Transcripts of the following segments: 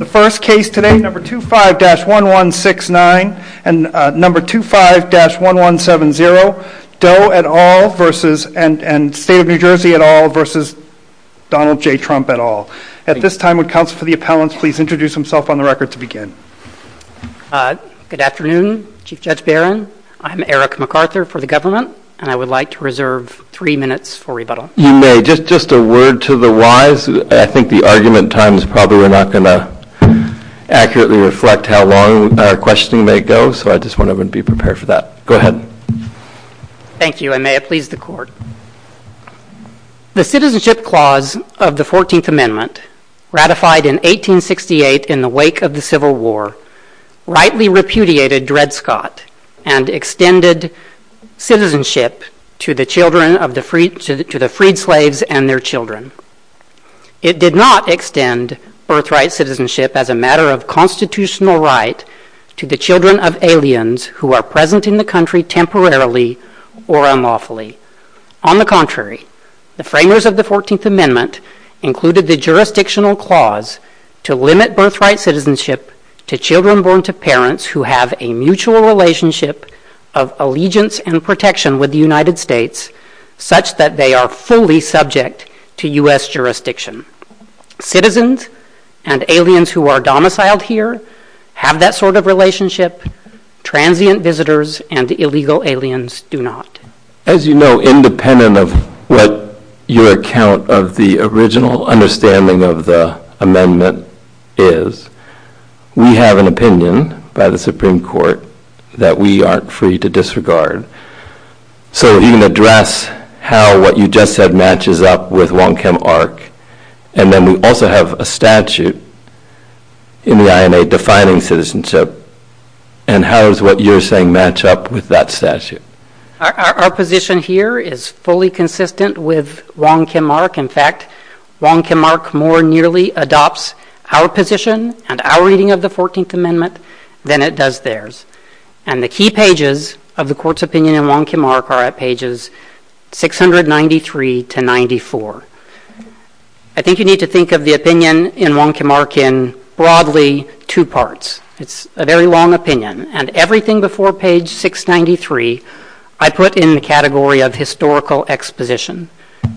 The first case today, number 25-1169 and number 25-1170, Doe et al. v. and State of New Jersey et al. v. Donald J. Trump et al. At this time, would counsel to the appellants please introduce themselves on the record to begin. Good afternoon, Chief Judge Barron. I'm Eric McArthur for the government, and I would like to reserve three minutes for You may. And just a word to the wise, I think the argument time is probably not going to accurately reflect how long questioning may go, so I just want everyone to be prepared for that. Go ahead. Thank you, and may it please the Court. The Citizenship Clause of the 14th Amendment, ratified in 1868 in the wake of the Civil War, rightly repudiated Dred Scott and extended citizenship to the children of the freed slaves and their children. It did not extend birthright citizenship as a matter of constitutional right to the children of aliens who are present in the country temporarily or unlawfully. On the contrary, the framers of the 14th Amendment included the jurisdictional clause to limit birthright citizenship to children born to parents who have a mutual relationship of allegiance and protection with the United States, such that they are fully subject to U.S. jurisdiction. Citizens and aliens who are domiciled here have that sort of relationship. Transient visitors and illegal aliens do not. As you know, independent of what your account of the original understanding of the amendment is, we have an opinion by the Supreme Court that we aren't free to disregard. So if you can address how what you just said matches up with Wong Kim Ark, and then we also have a statute in the INA defining citizenship, and how does what you're saying match up with that statute? Our position here is fully consistent with Wong Kim Ark. In fact, Wong Kim Ark more nearly adopts our position and our reading of the 14th Amendment than it does theirs. And the key pages of the Court's opinion in Wong Kim Ark are at pages 693 to 94. I think you need to think of the opinion in Wong Kim Ark in broadly two parts. It's a very long opinion, and everything before page 693 I put in the category of historical exposition.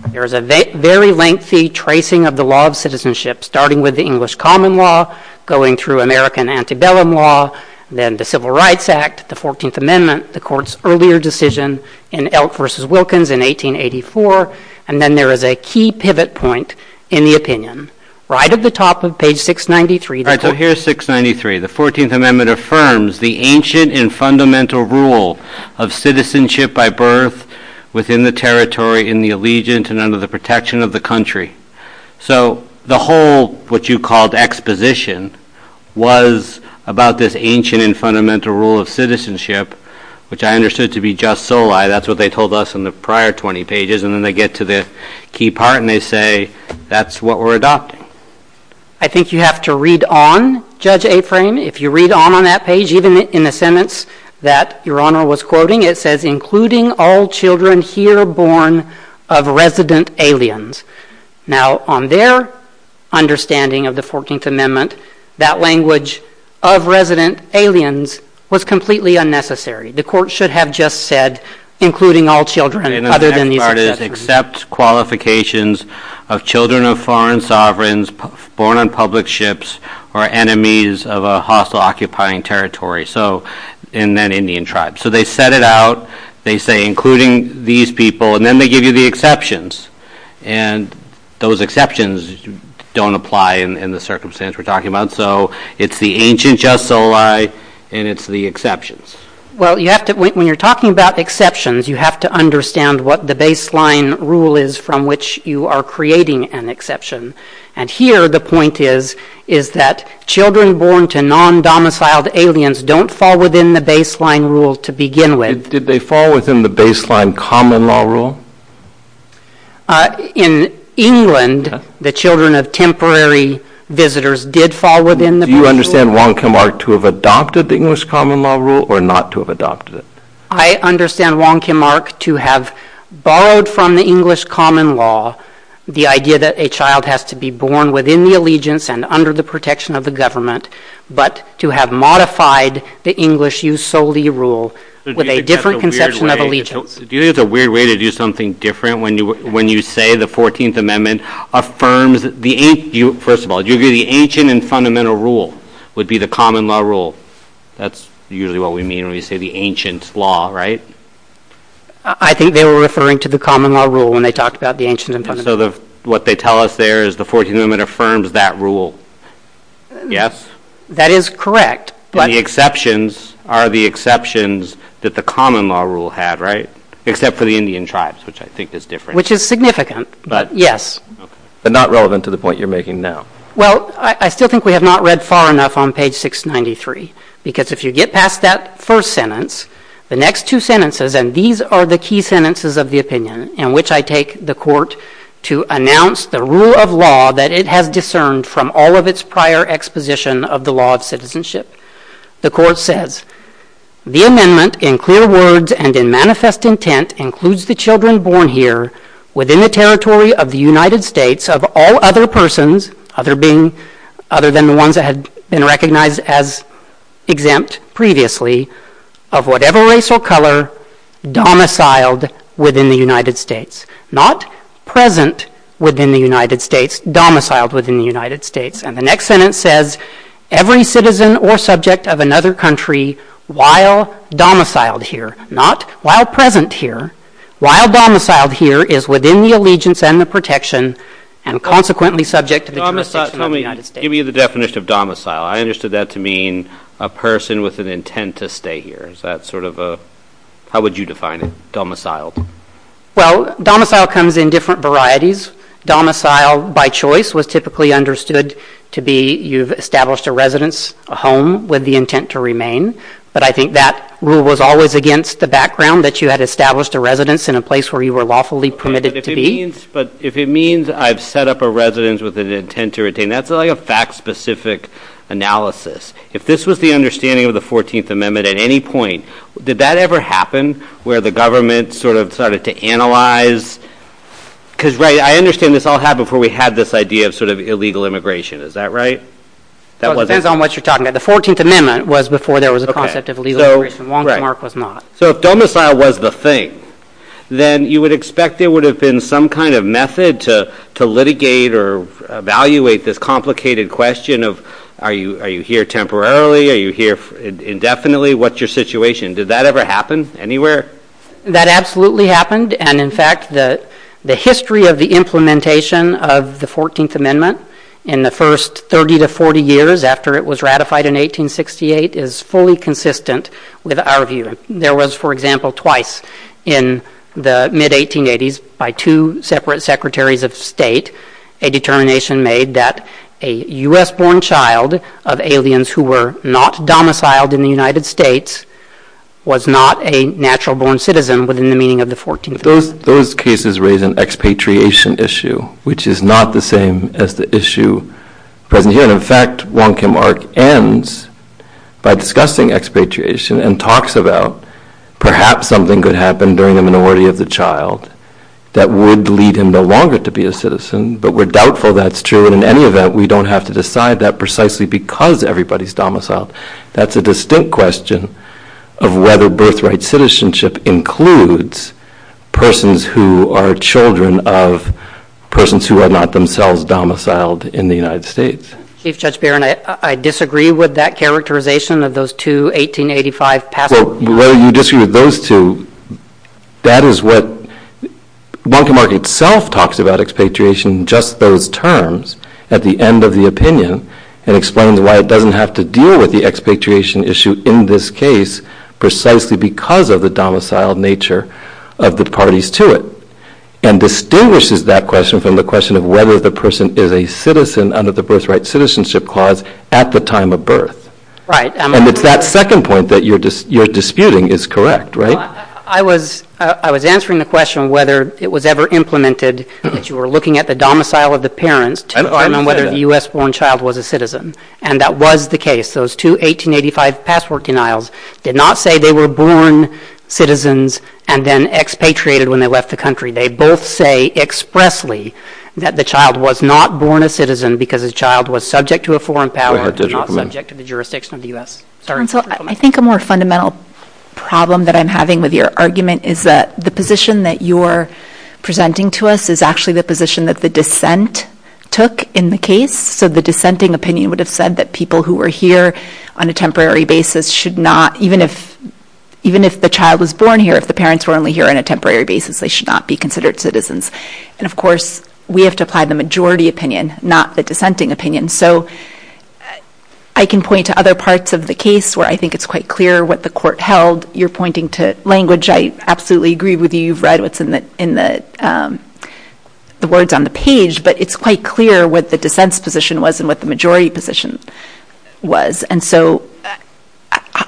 There's a very lengthy tracing of the law of citizenship, starting with the English common law, going through American antebellum law, then the Civil Rights Act, the 14th Amendment, the Court's earlier decision in Elk v. Wilkins in 1884, and then there is a key pivot point in the opinion. Right at the top of page 693. So here's 693. The 14th Amendment affirms the ancient and fundamental rule of citizenship by birth within the territory, in the allegiance, and under the protection of the country. So the whole, what you called exposition, was about this ancient and fundamental rule of citizenship, which I understood to be just soli. That's what they told us in the prior 20 pages, and then they get to the key part, and they say, that's what we're adopting. I think you have to read on, Judge Aframe. If you read on on that page, even in the sentence that Your Honor was quoting, it says, including all children here born of resident aliens. Now on their understanding of the 14th Amendment, that language, of resident aliens, was completely unnecessary. The Court should have just said, including all children, other than the And the next part is, accepts qualifications of children of foreign sovereigns, born on public ships, or enemies of a hostile occupying territory, so, in that Indian tribe. So they set it out, they say, including these people, and then they give you the exceptions, and those exceptions don't apply in the circumstance we're talking about, so, it's the ancient just soli, and it's the exceptions. Well you have to, when you're talking about exceptions, you have to understand what the baseline rule is from which you are creating an exception, and here the point is, is that children born to non-domiciled aliens don't fall within the baseline rule to begin with. Did they fall within the baseline common law rule? In England, the children of temporary visitors did fall within the rule. Do you understand Wong Kim Ark to have adopted the English common law rule, or not to have adopted it? I understand Wong Kim Ark to have borrowed from the English common law the idea that a child has to be born within the allegiance and under the protection of the government, but to have modified the English just soli rule with a different conception of allegiance. Do you think it's a weird way to do something different when you say the 14th amendment affirms, first of all, do you agree the ancient and fundamental rule would be the common law rule? That's usually what we mean when we say the ancient law, right? I think they were referring to the common law rule when they talked about the ancient and fundamental rule. So what they tell us there is the 14th amendment affirms that rule, yes? That is correct. But the exceptions are the exceptions that the common law rule had, right? Except for the Indian tribes, which I think is different. Which is significant, yes. But not relevant to the point you're making now. Well, I still think we have not read far enough on page 693, because if you get past that first sentence, the next two sentences, and these are the key sentences of the opinion in which I take the court to announce the rule of law that it has discerned from all of its prior exposition of the law of citizenship. The court says, the amendment in clear words and in manifest intent includes the children born here within the territory of the United States of all other persons, other than the ones that had been recognized as exempt previously, of whatever race or color domiciled within the United States, not present within the United States, domiciled within the United States. And the next sentence says, every citizen or subject of another country, while domiciled here, not while present here, while domiciled here is within the allegiance and the protection and consequently subject to the jurisdiction of the United States. Let me give you the definition of domicile. I understood that to mean a person with an intent to stay here. Is that sort of a, how would you define it, domiciled? Well, domicile comes in different varieties. Domicile by choice was typically understood to be you've established a residence, a home with the intent to remain, but I think that rule was always against the background that you had established a residence in a place where you were lawfully permitted to be. But if it means I've set up a residence with an intent to retain, that's like a fact specific analysis. If this was the understanding of the 14th Amendment at any point, did that ever happen where the government sort of started to analyze, because right, I understand this all happened before we had this idea of sort of illegal immigration. Is that right? Well, it depends on what you're talking about. The 14th Amendment was before there was a concept of illegal immigration. Waldenmark was not. So if domicile was the thing, then you would expect there would have been some kind of method to litigate or evaluate this complicated question of, are you here temporarily? Are you here indefinitely? What's your situation? Did that ever happen anywhere? That absolutely happened. And in fact, the history of the implementation of the 14th Amendment in the first 30 to 40 years after it was ratified in 1868 is fully consistent with our view. There was, for example, twice in the mid-1880s by two separate secretaries of state, a determination made that a U.S.-born child of aliens who were not domiciled in the United States was not a natural-born citizen within the meaning of the 14th Amendment. Those cases raise an expatriation issue, which is not the same as the issue present here. And in fact, Waldenmark ends by discussing expatriation and talks about perhaps something could happen during the minority of the child that would lead him no longer to be a citizen, but we're doubtful that's true. In any event, we don't have to decide that precisely because everybody's domiciled. That's a distinct question of whether birthright citizenship includes persons who are children of persons who are not themselves domiciled in the United States. Chief Judge Barron, I disagree with that characterization of those two 1885 passports. Waldenmark itself talks about expatriation in just those terms at the end of the opinion and explains why it doesn't have to deal with the expatriation issue in this case precisely because of the domiciled nature of the parties to it and distinguishes that question from the question of whether the person is a citizen under the birthright citizenship clause at the time of birth. And it's that second point that you're disputing is correct, right? I was answering the question of whether it was ever implemented that you were looking at the domicile of the parent to determine whether a U.S.-born child was a citizen, and that was the case. Those two 1885 passport denials did not say they were born citizens and then expatriated when they left the country. They both say expressly that the child was not born a citizen because the child was subject to a foreign power and not subject to the jurisdiction of the U.S. I think a more fundamental problem that I'm having with your argument is that the position that you are presenting to us is actually the position that the dissent took in the case. So the dissenting opinion would have said that people who were here on a temporary basis should not, even if the child was born here, if the parents were only here on a temporary basis, they should not be considered citizens. And of course, we have to apply the majority opinion, not the dissenting opinion. So I can point to other parts of the case where I think it's quite clear what the court held. You're pointing to language. I absolutely agree with you. You've read what's in the words on the page, but it's quite clear what the dissent's position was and what the majority position was. And so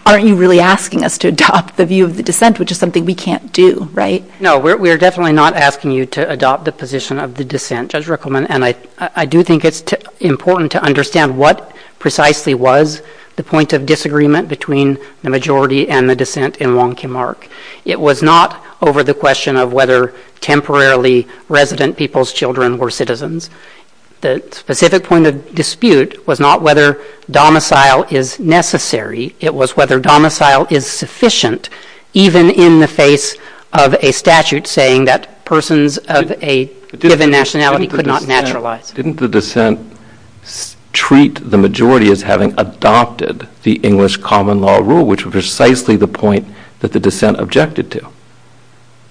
aren't you really asking us to adopt the view of the dissent, which is something we can't do, right? No, we're definitely not asking you to adopt the position of the dissent, Judge Rickleman, and I do think it's important to understand what precisely was the point of disagreement between the majority and the dissent in Wonky Mark. It was not over the question of whether temporarily resident people's children were citizens. The specific point of dispute was not whether domicile is necessary. It was whether domicile is sufficient, even in the face of a statute saying that persons of a given nationality could not naturalize. Didn't the dissent treat the majority as having adopted the English common law rule, which was precisely the point that the dissent objected to?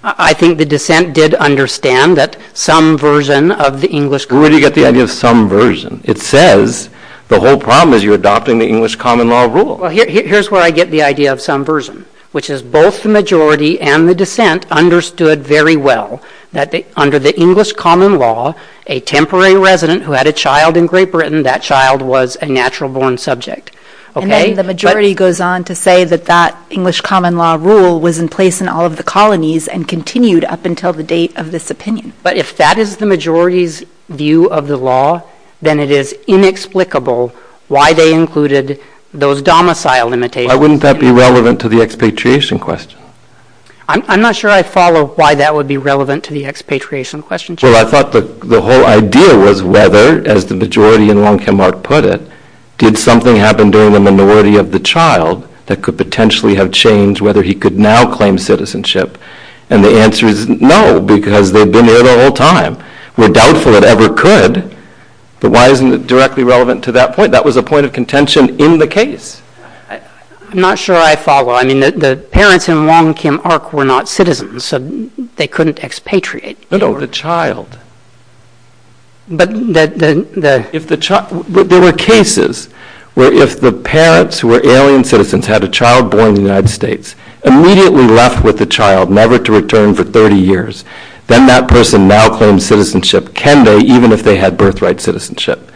I think the dissent did understand that some version of the English common law rule... Where did you get the idea of some version? It says the whole problem is you're adopting the English common law rule. Here's where I get the idea of some version, which is both the majority and the dissent understood very well that under the English common law, a temporary resident who had a child in Great Britain, that child was a natural born subject. The majority goes on to say that that English common law rule was in place in all of the colonies and continued up until the date of this opinion. If that is the majority's view of the law, then it is inexplicable why they included those domicile limitations. Why wouldn't that be relevant to the expatriation question? I'm not sure I follow why that would be relevant to the expatriation question. Well, I thought that the whole idea was whether, as the majority in Longtenmark put it, did something happen during the minority of the child that could potentially have changed whether he could now claim citizenship? And the answer is no, because they've been there the whole time. We're doubtful it ever could. But why isn't it directly relevant to that point? That was a point of contention in the case. I'm not sure I follow. I mean, the parents in Longtenmark were not citizens, so they couldn't expatriate. But of the child. But there were cases where if the parents who were alien citizens had a child born in the United States, immediately left with the child, never to return for 30 years, then that person now claims citizenship. Can they, even if they had birthright citizenship?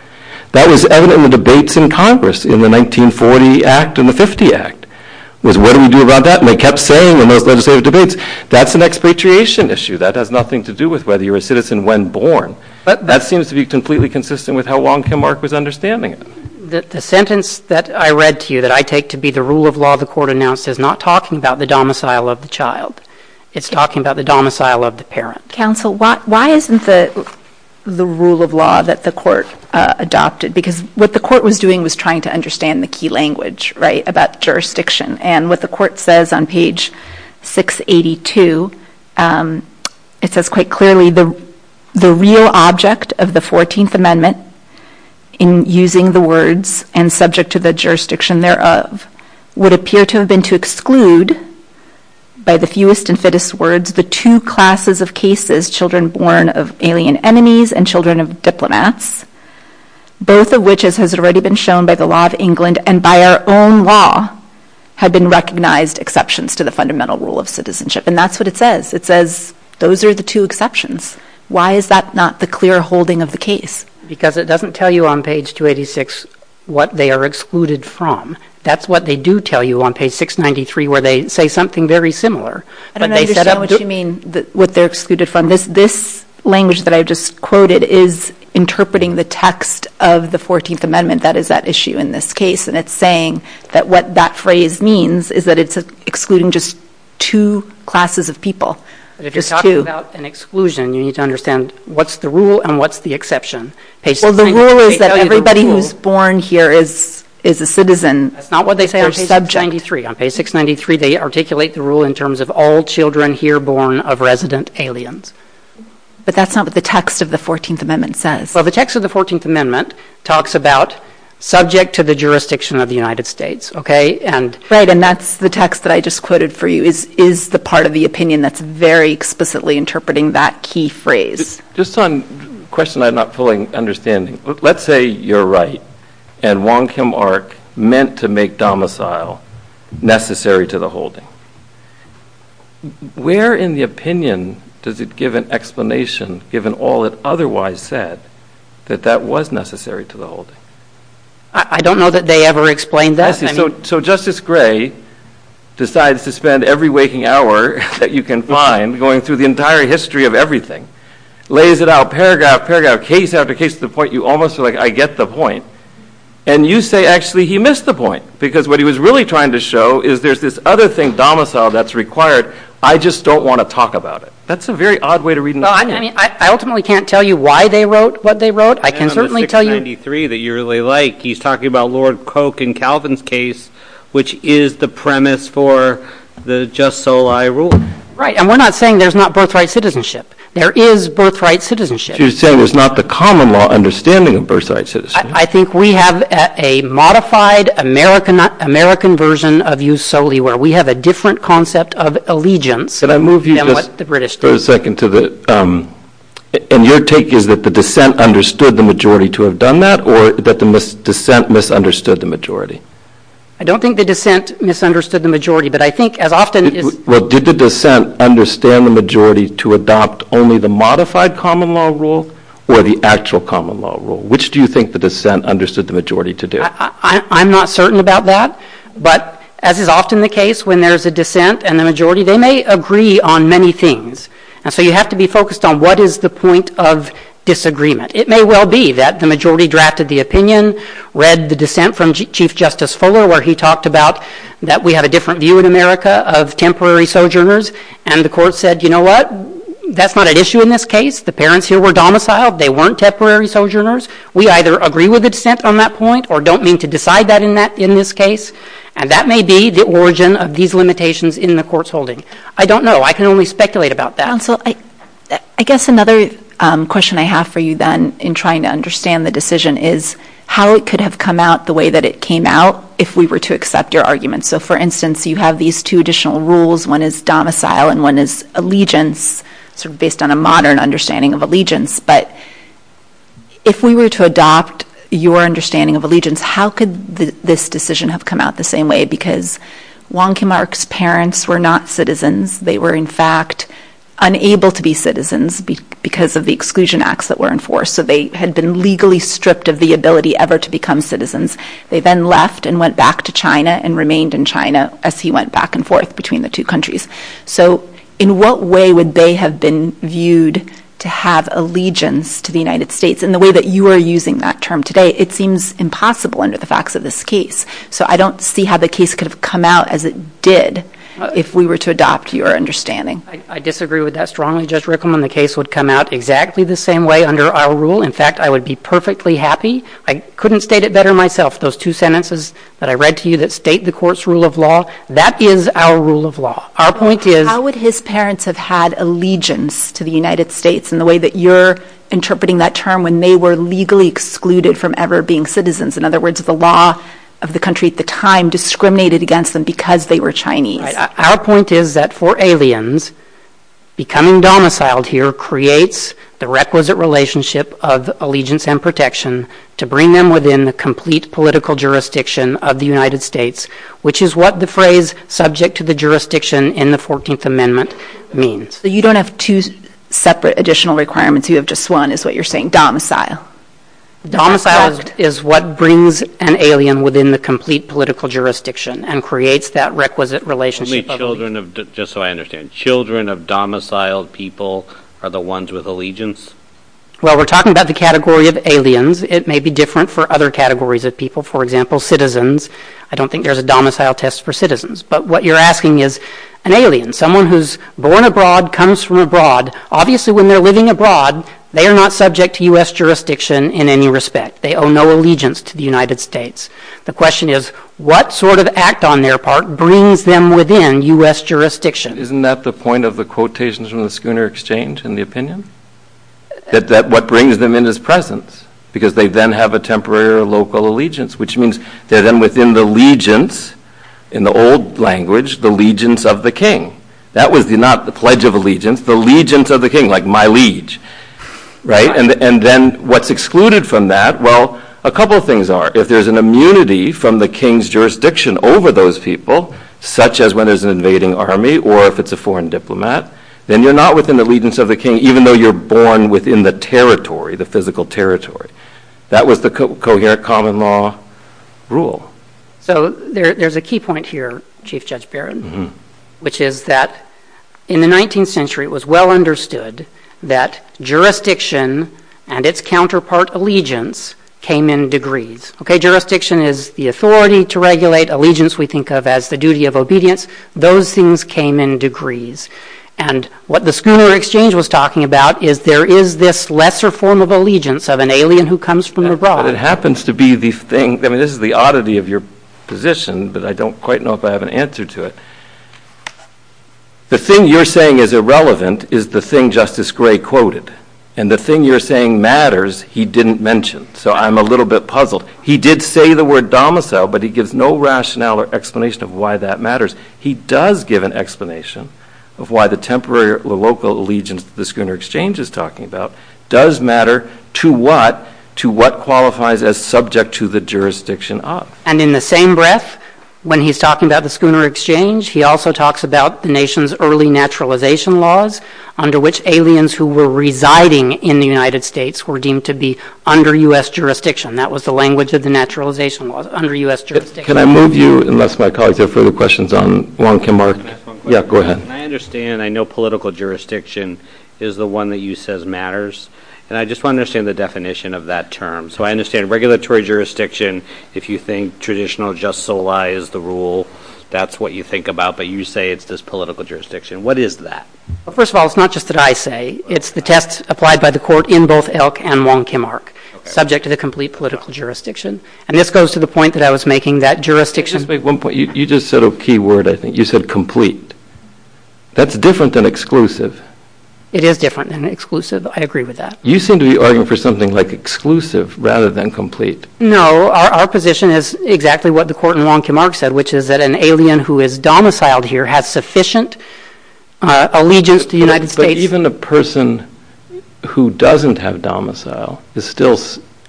That was evident in the debates in Congress in the 1940 Act and the 50 Act was what do we do about that? And they kept saying that's an expatriation issue that has nothing to do with whether you're a citizen when born. But that seems to be completely consistent with how Longtenmark was understanding it. The sentence that I read to you that I take to be the rule of law, the court announced is not talking about the domicile of the child. It's talking about the domicile of the parent. Counsel, why isn't the rule of law that the court adopted? Because what the court was doing was trying to understand the key language about jurisdiction. And what the court says on page 682, it says quite clearly the real object of the 14th Amendment, in using the words and subject to the jurisdiction thereof, would appear to have been to exclude by the fewest and fittest words, the two classes of cases, children born of alien enemies and children of diplomats, both of which has already been shown by the law of England and by our own law, have been recognized exceptions to the fundamental rule of citizenship. And that's what it says. It says those are the two exceptions. Why is that not the clear holding of the case? Because it doesn't tell you on page 286 what they are excluded from. That's what they do tell you on page 693, where they say something very similar. And I don't understand what you mean, what they're excluded from. This language that I just quoted is interpreting the text of the 14th Amendment. That is that issue in this case. And it's saying that what that phrase means is that it's excluding just two classes of people. They're just talking about an exclusion. You need to understand what's the rule and what's the exception. Well, the rule is that everybody who's born here is a citizen. That's not what they say on page 693. On page 693, they articulate the rule in terms of all children here born of resident aliens. But that's not what the text of the 14th Amendment says. Well, the text of the 14th Amendment talks about subject to the jurisdiction of the United States. OK, and Fred, and that's the text that I just quoted for you is is the part of the opinion that's very explicitly interpreting that key phrase. Just one question I'm not fully understanding. Let's say you're right. And Wong Kim Ark meant to make domicile necessary to the holding. Where, in the opinion, does it give an explanation, given all it otherwise said that that was necessary to the whole? I don't know that they ever explained that. So Justice Gray decides to spend every waking hour that you can find going through the entire history of everything. Lays it out, paragraph, paragraph, case application, the point you almost feel like I get the point. And you say, actually, he missed the point, because what he was really trying to show is there's this other thing domicile that's required. I just don't want to talk about it. That's a very odd way to read. I ultimately can't tell you why they wrote what they wrote. I can certainly tell you three that you really like. He's talking about Lord Coke and Calvin's case, which is the premise for the just so I rule. Right. And we're not saying there's not birthright citizenship. There is birthright citizenship. You're saying it's not the common law understanding of birthright. I think we have a modified American American version of you solely where we have a different concept of allegiance. But I move you to the British for a second to the and your take is that the dissent understood the majority to have done that or that the dissent misunderstood the majority. I don't think the dissent misunderstood the majority. But I think as often as the dissent understand the majority to adopt only the modified common law rule or the actual common law rule, which do you think the dissent understood the majority to do? I'm not certain about that. But as is often the case, when there's a dissent and the majority, they may agree on many things. And so you have to be focused on what is the point of disagreement. It may well be that the majority drafted the opinion, read the dissent from Chief Justice Fuller, where he talked about that. We have a different view in America of temporary sojourners. And the court said, you know what, that's not an issue in this case. The parents who were domiciled, they weren't temporary sojourners. We either agree with the dissent on that point or don't mean to decide that in that in this case. And that may be the origin of these limitations in the court's holding. I don't know. I can only speculate about that. Counsel, I guess another question I have for you then in trying to understand the decision is how it could have come out the way that it came out if we were to accept your argument. So, for instance, you have these two additional rules. One is domicile and one is allegiance, sort of based on a modern understanding of allegiance. But if we were to adopt your understanding of allegiance, how could this decision have come out the same way? Because Wonky Mark's parents were not citizens. They were, in fact, unable to be citizens because of the exclusion acts that were in force. So they had been legally stripped of the ability ever to become citizens. They then left and went back to China and remained in China as he went back and forth between the two countries. So in what way would they have been viewed to have allegiance to the United States in the way that you are using that term today? It seems impossible under the facts of this case. So I don't see how the case could have come out as it did if we were to adopt your understanding. I disagree with that strongly, Judge Rickman. The case would come out exactly the same way under our rule. In fact, I would be perfectly happy. I couldn't state it better myself. Those two sentences that I read to you that state the court's rule of law, that is our rule of law. Our point is, how would his parents have had allegiance to the United States in the way that you're interpreting that term when they were legally excluded from ever being citizens? In other words, the law of the country at the time discriminated against them because they were Chinese. Our point is that for aliens becoming domiciled here creates the requisite relationship of allegiance and protection to bring them within the complete political jurisdiction of the United States, which is what the phrase subject to the jurisdiction in the 14th Amendment means. So you don't have to set the additional requirements. You have just one is what you're saying. Domiciled is what brings an alien within the complete political jurisdiction and creates that requisite relationship. Children of domiciled people are the ones with allegiance? Well, we're talking about the category of aliens. It may be different for other categories of people. For example, citizens. I don't think there's a domicile test for citizens. But what you're asking is an alien. Someone who's born abroad comes from abroad. Obviously, when they're living abroad, they are not subject to U.S. jurisdiction in any respect. They owe no allegiance to the United States. The question is, what sort of act on their part brings them within U.S. jurisdiction? Isn't that the point of the quotations from the Schooner Exchange in the opinion? That what brings them in is presence because they then have a temporary local allegiance, which means they're then within the legions, in the old language, the legions of the king. That was not the pledge of allegiance. The legions of the king, like my liege. Right. And then what's excluded from that? Well, a couple of things are if there's an immunity from the king's jurisdiction over those people, such as when there's an invading army or if it's a foreign diplomat, then you're not within the legions of the king, even though you're born within the territory, the physical territory. That was the coherent common law rule. So there's a key point here, Chief Judge Barron, which is that in the 19th century, it was well understood that jurisdiction and its counterpart allegiance came in degrees. OK, jurisdiction is the authority to regulate allegiance. We think of as the duty of obedience. Those things came in degrees. And what the Schooner Exchange was talking about is there is this lesser form of allegiance of an alien who comes from abroad. It happens to be the thing that is the oddity of your position, but I don't quite know if I have an answer to it. The thing you're saying is irrelevant is the thing Justice Gray quoted and the thing you're saying matters. He didn't mention. So I'm a little bit puzzled. He did say the word domicile, but he gives no rationale or explanation of why that matters. He does give an explanation of why the temporary local allegiance the Schooner Exchange is talking about does matter to what to what qualifies as subject to the jurisdiction. And in the same breath, when he's talking about the Schooner Exchange, he also talks about the nation's early naturalization laws under which aliens who were residing in the United States were deemed to be under U.S. jurisdiction. That was the language of the naturalization laws under U.S. Can I move you, unless my colleagues have further questions on Wong Kim Ark? Yeah, go ahead. I understand. I know political jurisdiction is the one that you says matters. And I just want to understand the definition of that term. So I understand regulatory jurisdiction. If you think traditional just so lies the rule, that's what you think about. But you say it's this political jurisdiction. What is that? Well, first of all, it's not just that I say it's the test applied by the court in both Elk and Wong Kim Ark, subject to the complete political jurisdiction. And this goes to the point that I was making that jurisdiction. But at one point you just said a key word. I think you said complete. That's different than exclusive. It is different than exclusive. I agree with that. You seem to be arguing for something like exclusive rather than complete. No, our position is exactly what the court in Wong Kim Ark said, which is that an alien who is domiciled here has sufficient allegiance to the United States. Even a person who doesn't have domicile is still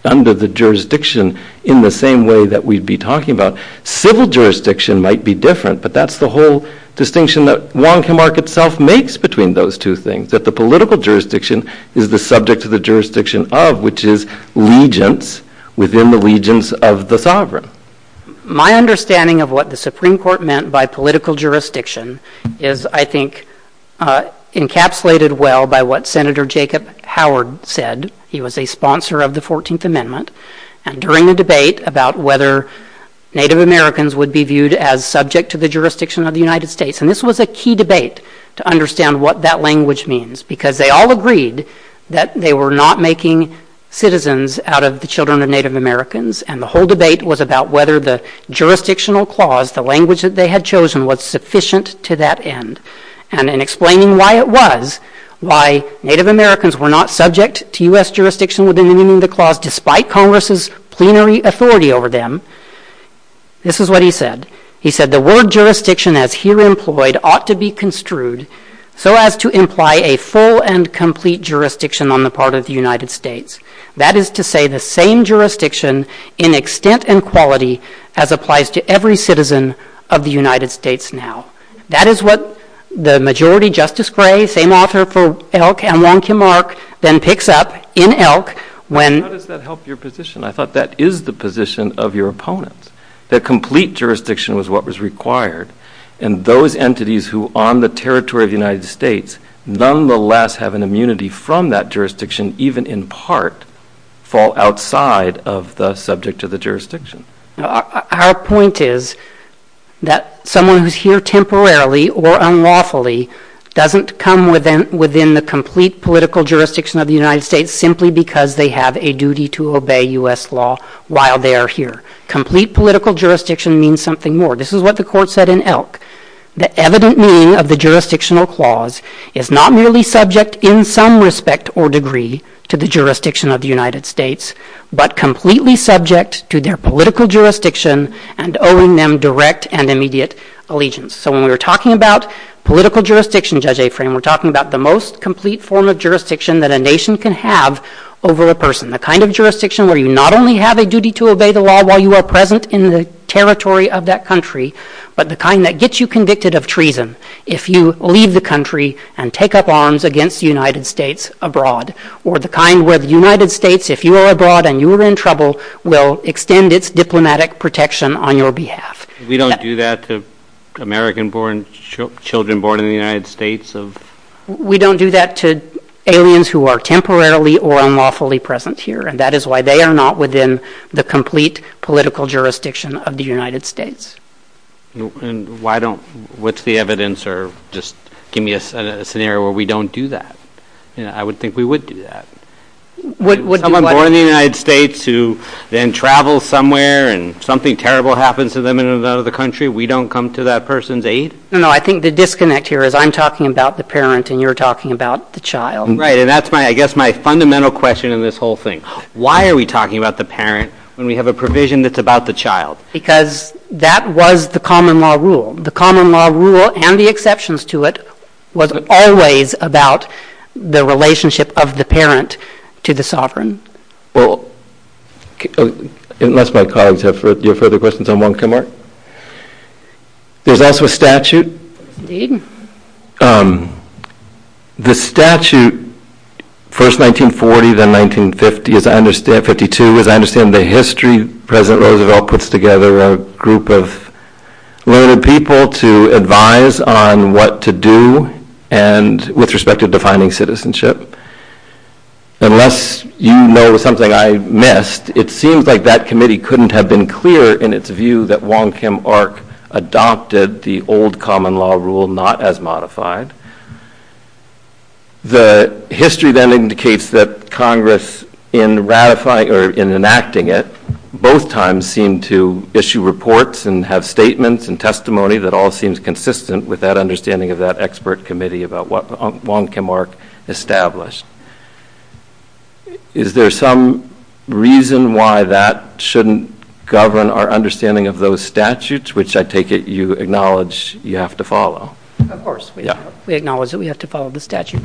under the jurisdiction in the same way that we'd be talking about civil jurisdiction might be different. But that's the whole distinction that Wong Kim Ark itself makes between those two things, that the political jurisdiction is the subject of the jurisdiction of which is legions within the legions of the sovereign. My understanding of what the Supreme Court meant by political jurisdiction is, I think, encapsulated well by what Senator Jacob Howard said. He was a sponsor of the 14th Amendment. And during the debate about whether Native Americans would be viewed as subject to the jurisdiction of the United States. And this was a key debate to understand what that language means, because they all agreed that they were not making citizens out of the children of Native Americans. And the whole debate was about whether the jurisdictional clause, the language that they had chosen, was sufficient to that end. And in explaining why it was, why Native Americans were not subject to U.S. jurisdiction within the Union of the Clause despite Congress's plenary authority over them. This is what he said. He said, the word jurisdiction, as here employed, ought to be construed so as to imply a full and complete jurisdiction on the part of the United States. That is to say the same jurisdiction in extent and quality as applies to every citizen of the United States now. That is what the majority Justice Gray, same author for Elk and Wong Kim Ark, then picks up in Elk when... How does that help your position? I thought that is the position of your opponent. The complete jurisdiction was what was required. And those entities who are on the territory of the United States, nonetheless have an immunity from that jurisdiction, even in part, fall outside of the subject of the jurisdiction. Our point is that someone who is here temporarily or unlawfully doesn't come within the complete political jurisdiction of the United States simply because they have a duty to obey U.S. law while they are here. Complete political jurisdiction means something more. This is what the court said in Elk. The evident meaning of the jurisdictional clause is not merely subject in some respect or degree to the jurisdiction of the United States, but completely subject to their political jurisdiction and owing them direct and immediate allegiance. So when we're talking about political jurisdiction, Judge Aframe, we're talking about the most complete form of jurisdiction that a nation can have over a person. The kind of jurisdiction where you not only have a duty to obey the law while you are present in the territory of that country, but the kind that gets you convicted of treason if you leave the country and take up arms against the United States abroad. Or the kind where the United States, if you are abroad and you are in trouble, will extend its diplomatic protection on your behalf. We don't do that to American-born children born in the United States. We don't do that to aliens who are temporarily or unlawfully present here. And that is why they are not within the complete political jurisdiction of the United States. And why don't, what's the evidence, or just give me a scenario where we don't do that. You know, I would think we would do that. Would someone born in the United States who then travels somewhere and something terrible happens to them in another country, we don't come to that person's aid? No, I think the disconnect here is I'm talking about the parent and you're talking about the child. Right, and that's my, I guess my fundamental question in this whole thing. Why are we talking about the parent when we have a provision that's about the child? Because that was the common law rule. The common law rule, and the exceptions to it, was always about the relationship of the parent to the sovereign. Well, unless my colleagues have further questions, I'm welcome, Mark. There's also a statute. Indeed. The statute, first 1940, then 1950, as I understand, 52, as I understand the history, President Roosevelt puts together a group of learned people to advise on what to do and, with respect to defining citizenship. Unless you know something I missed, it seems like that committee couldn't have been clearer in its view that Wong Kim Ark adopted the old common law rule, not as modified. The history then indicates that Congress, in ratifying or in enacting it, both times seem to issue reports and have statements and testimony that all seems consistent with that understanding of that expert committee about what Wong Kim Ark established. Is there some reason why that shouldn't govern our understanding of those statutes, which I take it you acknowledge you have to follow? Of course. We acknowledge that we have to follow the statute.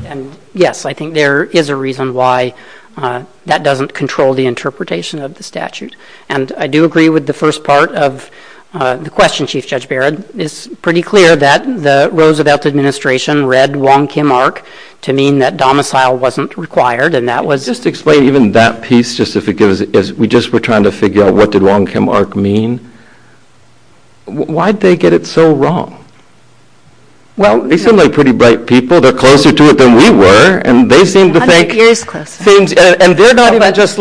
Yes, I think there is a reason why that doesn't control the interpretation of the statute. I do agree with the first part of the question, Chief Judge Barrett. It's pretty clear that the Roosevelt administration read Wong Kim Ark to mean that domicile wasn't required. Just explain even that piece. We just were trying to figure out what did Wong Kim Ark mean. Why did they get it so wrong? They seem like pretty bright people. They're closer to it than we were. They're not just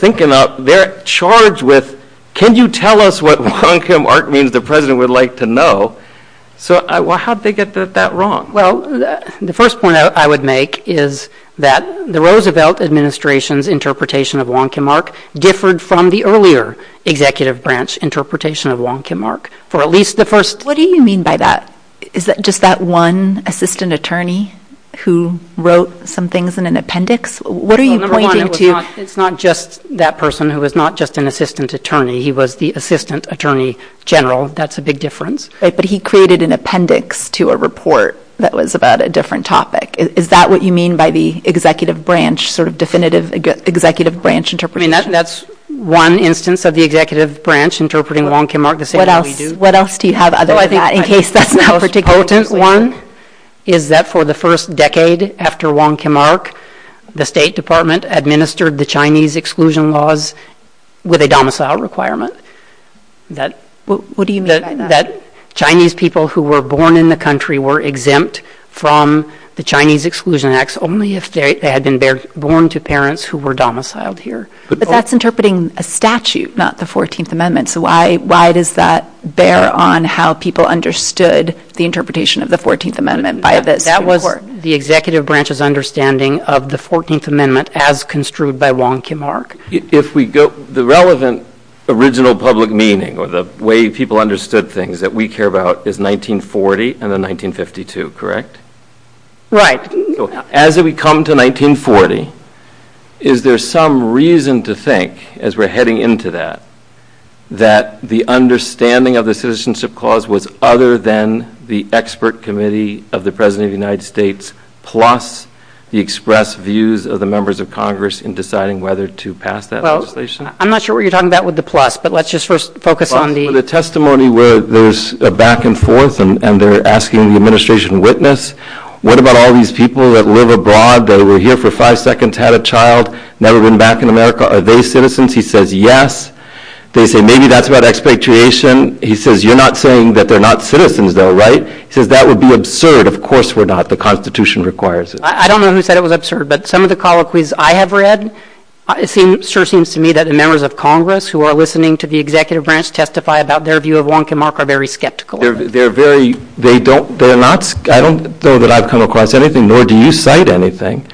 thinking up. They're charged with, can you tell us what Wong Kim Ark means the president would like to know? How did they get that wrong? The first point I would make is that the Roosevelt administration's interpretation of Wong Kim Ark differed from the earlier executive branch interpretation of Wong Kim Ark. What do you mean by that? Is that just that one assistant attorney who wrote some things in an appendix? It's not just that person who was not just an assistant attorney. He was the assistant attorney general. That's a big difference. He created an appendix to a report that was about a different topic. Is that what you mean by the executive branch, sort of definitive executive branch interpretation? That's one instance of the executive branch interpreting Wong Kim Ark the same way we do. What else do you have? I think the most potent one is that for the first decade after Wong Kim Ark, the State Department administered the Chinese exclusion laws with a domicile requirement. What do you mean by that? Chinese people who were born in the country were exempt from the Chinese exclusion acts only if they had been born to parents who were domiciled here. But that's interpreting a statute, not the 14th Amendment. So why does that bear on how people understood the interpretation of the 14th Amendment? That was the executive branch's understanding of the 14th Amendment as construed by Wong Kim Ark. The relevant original public meaning or the way people understood things that we care about is 1940 and 1952, correct? Right. As we come to 1940, is there some reason to think as we're heading into that that the understanding of the citizenship clause was other than the expert committee of the President of the United States plus the expressed views of the members of Congress in deciding whether to pass that legislation? I'm not sure what you're talking about with the plus, but let's just first focus on the... The testimony where there's a back and forth and they're asking the administration witness, what about all these people that live abroad, that were here for five seconds, had a child, never went back to America, are they citizens? He says, yes. They say, maybe that's about expatriation. He says, you're not saying that they're not citizens though, right? He says, that would be absurd. Of course we're not. The Constitution requires it. I don't know who said it was absurd, but some of the colloquies I have read, it sure seems to me that the members of Congress who are listening to the executive branch testify about their view of Wong Kim Ark are very skeptical. They're very... I don't know that I've come across anything, nor do you cite anything,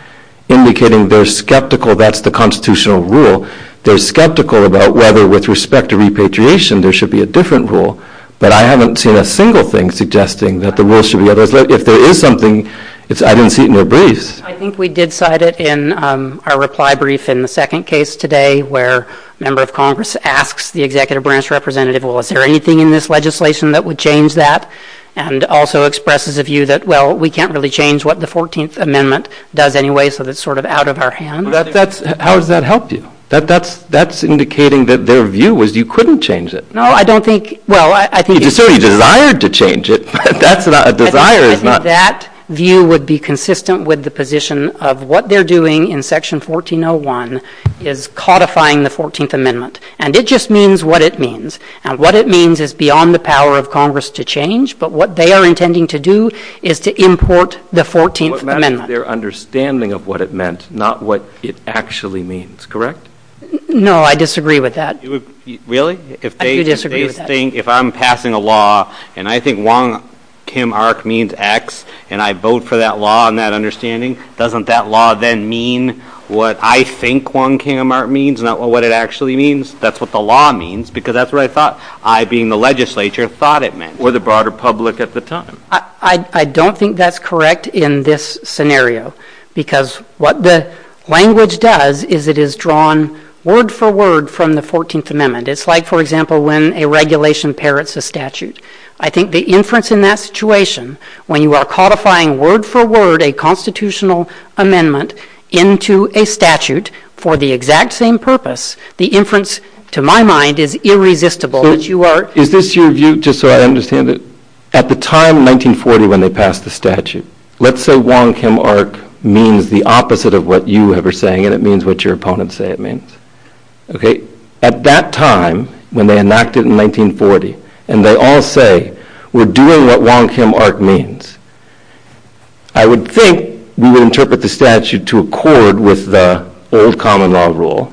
indicating they're skeptical that's the constitutional rule. They're skeptical about whether with respect to repatriation, there should be a different rule. But I haven't seen a single thing suggesting that the rule should be otherwise. If there is something, I didn't see it in their briefs. I think we did cite it in our reply brief in the second case today, where a member of Congress asks the executive branch representative, well, is there anything in this legislation that would change that? And also expresses a view that, well, we can't really change what the 14th Amendment does anyway, so that's sort of out of our hands. How has that helped you? That's indicating that their view was you couldn't change it. No, I don't think... Well, I think... You certainly desired to change it, but that's not... I think that view would be consistent with the position of what they're doing in Section 1401 is codifying the 14th Amendment. And it just means what it means. And what it means is beyond the power of Congress to change, but what they are intending to do is to import the 14th Amendment. What matters is their understanding of what it meant, not what it actually means. Correct? No, I disagree with that. Really? I do disagree with that. If they think, if I'm passing a law and I think Wong Kim Ark means X, and I vote for that law and that understanding, doesn't that law then mean what I think Wong Kim Ark means, not what it actually means? That's what the law means, because that's what I thought I, being the legislature, thought it meant, or the broader public at the time. I don't think that's correct in this scenario, because what the language does is it is drawn word for word from the 14th Amendment. It's like, for example, when a regulation parrots a statute. I think the inference in that situation, when you are codifying word for word a constitutional amendment into a statute for the exact same purpose, the inference, to my mind, is irresistible. Is this your view, just so I understand it? At the time, 1940, when they passed the statute, let's say Wong Kim Ark means the opposite of what you are saying, and it means what your opponents say it means. At that time, when they enacted it in 1940, and they all say, we're doing what Wong Kim Ark means, I would think we would interpret the statute to accord with the old common law rule,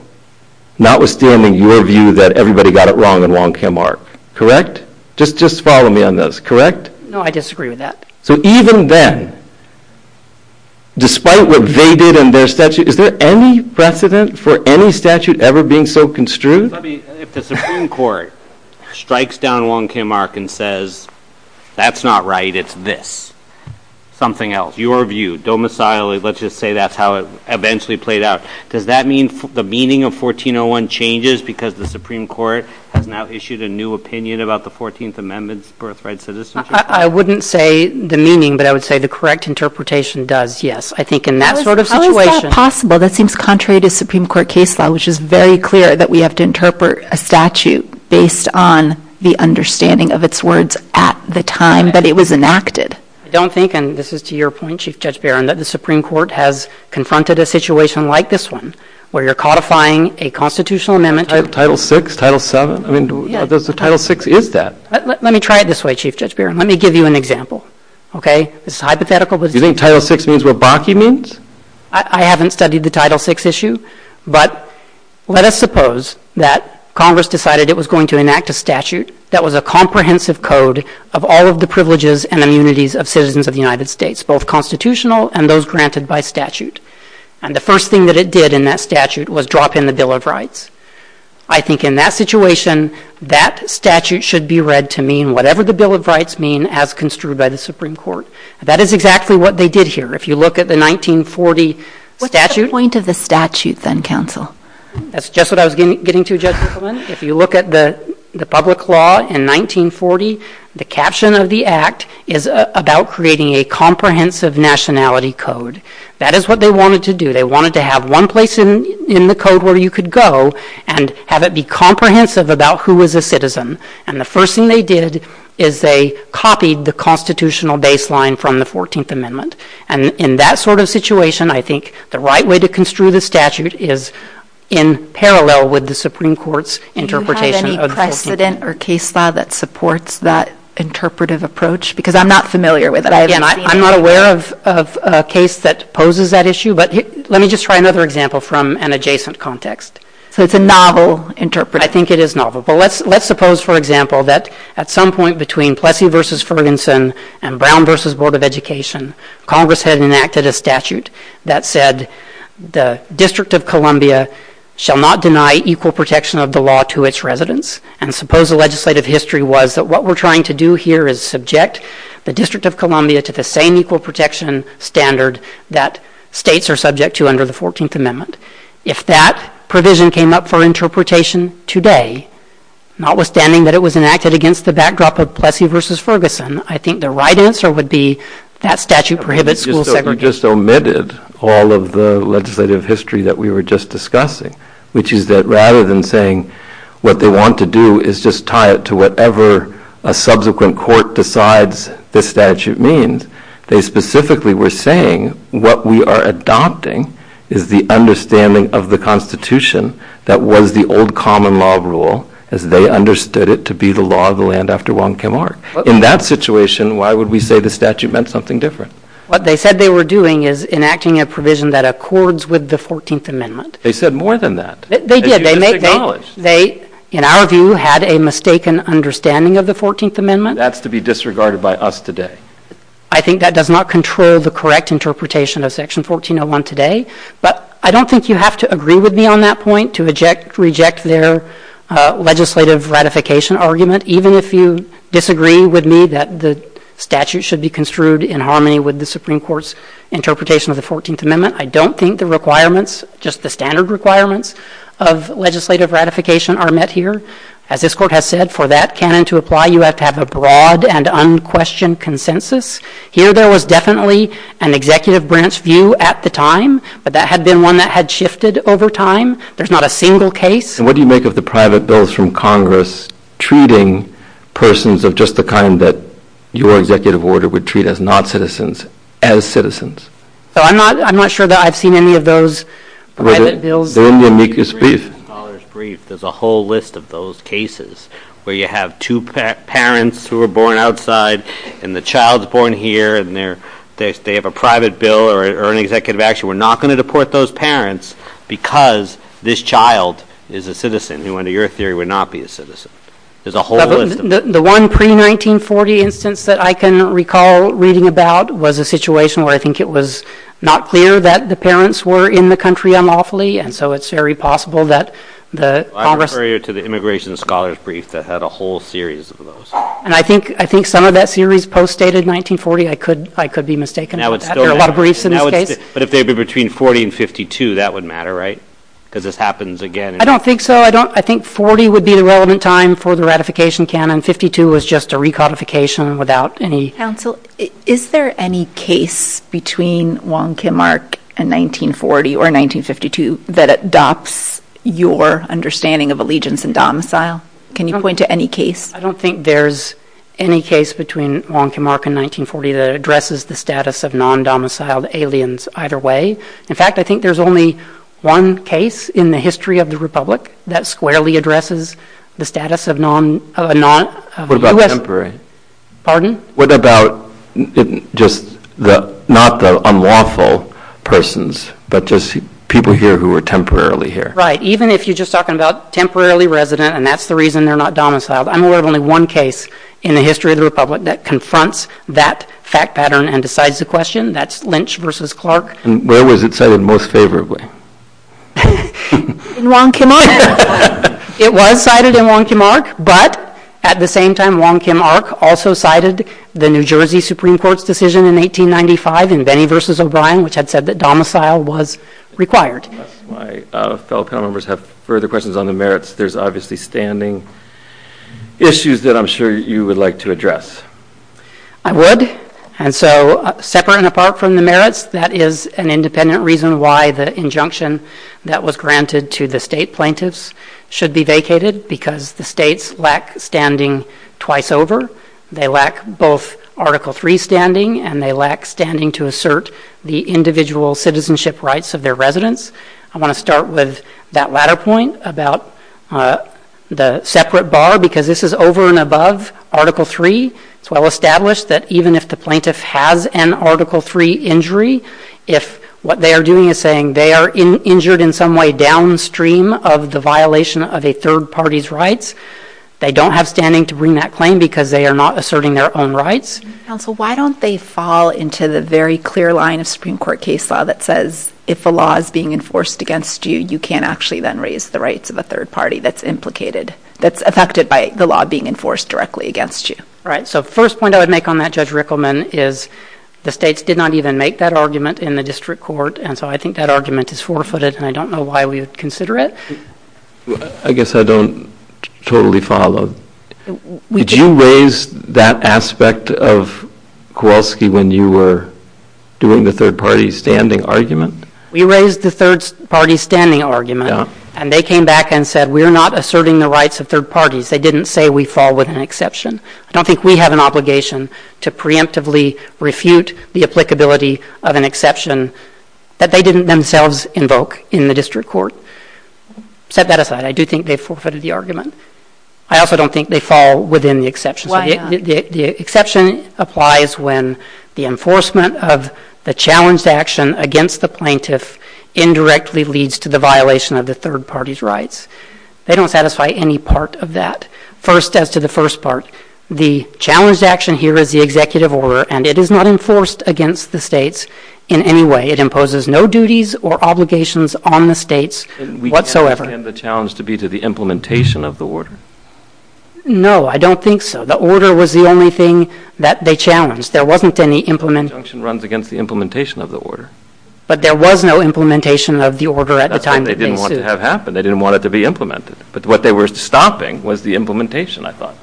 not with standing your view that everybody got it wrong in Wong Kim Ark. Correct? Just follow me on this. Correct? No, I disagree with that. So even then, despite what they did in their statute, is there any precedent for any statute ever being so construed? If the Supreme Court strikes down Wong Kim Ark and says, that's not right, it's this, something else, your view, domicile, let's just say that's how it eventually played out, does that mean the meaning of 1401 changes because the Supreme Court has now issued a new opinion about the 14th Amendment's birthright citizenship? I wouldn't say the meaning, but I would say the correct interpretation does, yes, I think in that sort of situation. How is that possible? That seems contrary to Supreme Court case law, which is very clear that we have to interpret a statute based on the understanding of its words at the time that it was enacted. I don't think, and this is to your point, Chief Judge Barron, that the Supreme Court has confronted a situation like this one, where you're codifying a constitutional amendment to… Title VI, Title VII, I mean, Title VI is that. Let me try it this way, Chief Judge Barron, let me give you an example, okay? You think Title VI means what Bakke means? I haven't studied the Title VI issue, but let us suppose that Congress decided it was going to enact a statute that was a comprehensive code of all of the privileges and immunities of citizens of the United States, both constitutional and those granted by statute, and the first thing that it did in that statute was drop in the Bill of Rights. I think in that situation, that statute should be read to mean whatever the Bill of Rights mean as construed by the Supreme Court. That is exactly what they did here. If you look at the 1940 statute… What's the point of the statute, then, counsel? That's just what I was getting to, Justice Clement. If you look at the public law in 1940, the caption of the act is about creating a comprehensive nationality code. That is what they wanted to do. They wanted to have one place in the code where you could go and have it be comprehensive about who was a citizen, and the first thing they did is they copied the constitutional baseline from the Fourteenth Amendment, and in that sort of situation, I think the right way to construe the statute is in parallel with the Supreme Court's interpretation of the Fourteenth Amendment. Do you have any precedent or case file that supports that interpretive approach? Because I'm not familiar with it. I'm not aware of a case that poses that issue, but let me just try another example from an adjacent context. So it's a novel interpretation. I think it is novel. Let's suppose, for example, that at some point between Plessy v. Ferguson and Brown v. Board of Education, Congress had enacted a statute that said the District of Columbia shall not deny equal protection of the law to its residents, and suppose the legislative history was that what we're trying to do here is subject the District of Columbia to the same equal protection standard that states are subject to under the Fourteenth Amendment. If that provision came up for interpretation today, notwithstanding that it was enacted against the backdrop of Plessy v. Ferguson, I think the right answer would be that statute prohibits school segregation. We just omitted all of the legislative history that we were just discussing, which is that rather than saying what they want to do is just tie it to whatever a subsequent court decides the statute means, they specifically were saying what we are adopting is the understanding of the Constitution that was the old common law rule as they understood it to be the law of the land after Wong Kim Ark. In that situation, why would we say the statute meant something different? What they said they were doing is enacting a provision that accords with the Fourteenth Amendment. They said more than that. They did. They just acknowledged. They, in our view, had a mistaken understanding of the Fourteenth Amendment. That's to be disregarded by us today. I think that does not control the correct interpretation of Section 1401 today, but I don't think you have to agree with me on that point to reject their legislative ratification argument. Even if you disagree with me that the statute should be construed in harmony with the Supreme Court's interpretation of the Fourteenth Amendment, I don't think the requirements, just the standard requirements of legislative ratification are met here. As this Court has said, for that canon to apply, you have to have a broad and unquestioned consensus. Here there was definitely an executive branch view at the time, but that had been one that had shifted over time. There's not a single case. And what do you make of the private bills from Congress treating persons of just the kind that your executive order would treat as not citizens as citizens? I'm not sure that I've seen any of those private bills. There's a whole list of those cases where you have two parents who were born outside, and the child's born here, and they have a private bill or an executive action. We're not going to deport those parents because this child is a citizen, even though your theory would not be a citizen. There's a whole list of them. The one pre-1940 instance that I can recall reading about was a situation where I think it was not clear that the parents were in the country unlawfully, and so it's very possible that the Congress— I'm referring to the Immigration Scholars Brief that had a whole series of those. And I think some of that series postdated 1940. I could be mistaken about that. There are a lot of briefs in that case. But if they were between 1940 and 1952, that would matter, right? Because this happens again. I don't think so. I think 1940 would be the relevant time for the ratification canon. 1952 was just a recodification without any— Is there any case between Wong Kim Ark and 1940 or 1952 that adopts your understanding of allegiance and domicile? Can you point to any case? I don't think there's any case between Wong Kim Ark and 1940 that addresses the status of non-domiciled aliens either way. In fact, I think there's only one case in the history of the Republic that squarely addresses the status of— What about temporary? Pardon? What about just not the unlawful persons, but just people here who are temporarily here? Right. Even if you're just talking about temporarily resident, and that's the reason they're not domiciled, I'm aware of only one case in the history of the Republic that confronts that fact pattern and decides the question. That's Lynch v. Clark. And where was it cited most favorably? In Wong Kim Ark. It was cited in Wong Kim Ark, but at the same time, Wong Kim Ark also cited the New Jersey Supreme Court's decision in 1895 in Benny v. O'Brien, which had said that domicile was required. My fellow panel members have further questions on the merits. There's obviously standing issues that I'm sure you would like to address. I would. And so, separate and apart from the merits, that is an independent reason why the injunction that was granted to the state plaintiffs should be vacated, because the states lack standing twice over. They lack both Article III standing, and they lack standing to assert the individual citizenship rights of their residents. I want to start with that latter point about the separate bar, because this is over and above Article III. It's well established that even if the plaintiff has an Article III injury, if what they are doing is saying they are injured in some way downstream of the violation of a third party's rights, they don't have standing to bring that claim because they are not asserting their own rights. So why don't they fall into the very clear line of Supreme Court case law that says, if the law is being enforced against you, you can't actually then raise the rights of a third party that's implicated, that's affected by the law being enforced directly against you. So the first point I would make on that, Judge Rickleman, is the states did not even make that argument in the district court, and so I think that argument is forfeited, and I don't know why we would consider it. I guess I don't totally follow. Did you raise that aspect of Kowalski when you were doing the third party standing argument? We raised the third party standing argument, and they came back and said we are not asserting the rights of third parties. They didn't say we fall within exception. I don't think we have an obligation to preemptively refute the applicability of an exception that they didn't themselves invoke in the district court. Set that aside. I do think they forfeited the argument. I also don't think they fall within the exception. The exception applies when the enforcement of the challenged action against the plaintiff indirectly leads to the violation of the third party's rights. They don't satisfy any part of that. First, as to the first part, the challenged action here is the executive order, and it is not enforced against the states in any way. It imposes no duties or obligations on the states whatsoever. And we can't extend the challenge to be to the implementation of the order. No, I don't think so. The order was the only thing that they challenged. There wasn't any implementation. The injunction runs against the implementation of the order. But there was no implementation of the order at the time. That's what they didn't want to have happen. They didn't want it to be implemented. But what they were stopping was the implementation, I thought.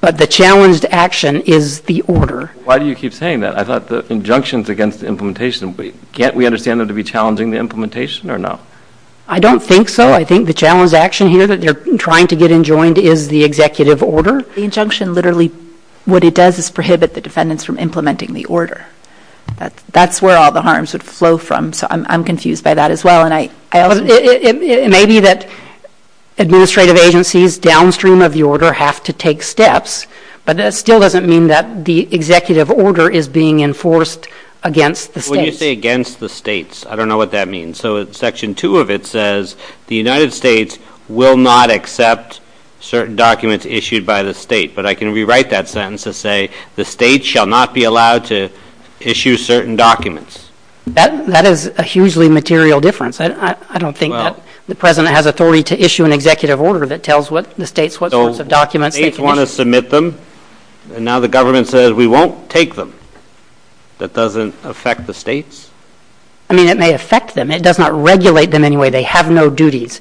But the challenged action is the order. Why do you keep saying that? I thought the injunctions against the implementation, can't we understand them to be challenging the implementation or not? I don't think so. I think the challenged action here that they're trying to get enjoined is the executive order. The injunction literally, what it does is prohibit the defendants from implementing the order. That's where all the harms would flow from. So I'm confused by that as well. And it may be that administrative agencies downstream of the order have to take steps. But that still doesn't mean that the executive order is being enforced against the states. When you say against the states, I don't know what that means. So Section 2 of it says the United States will not accept certain documents issued by the state. But I can rewrite that sentence and say the state shall not be allowed to issue certain documents. That is a hugely material difference. I don't think the president has authority to issue an executive order that tells the states what sorts of documents. So states want to submit them, and now the government says we won't take them. That doesn't affect the states? I mean it may affect them. It does not regulate them in any way. They have no duties.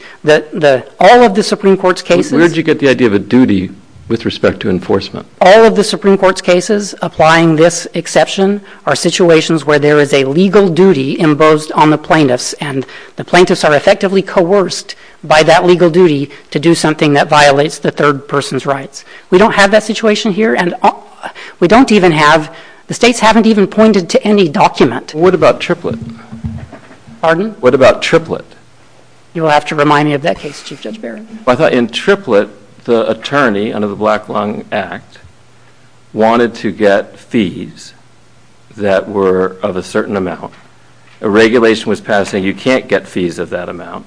All of the Supreme Court's cases. Where did you get the idea of a duty with respect to enforcement? All of the Supreme Court's cases, applying this exception, are situations where there is a legal duty imposed on the plaintiffs. And the plaintiffs are effectively coerced by that legal duty to do something that violates the third person's rights. We don't have that situation here, and we don't even have, the states haven't even pointed to any document. What about triplet? Pardon? What about triplet? You'll have to remind me of that case, Chief Judge Barry. I thought in triplet, the attorney under the Black Lung Act wanted to get fees that were of a certain amount. A regulation was passed saying you can't get fees of that amount.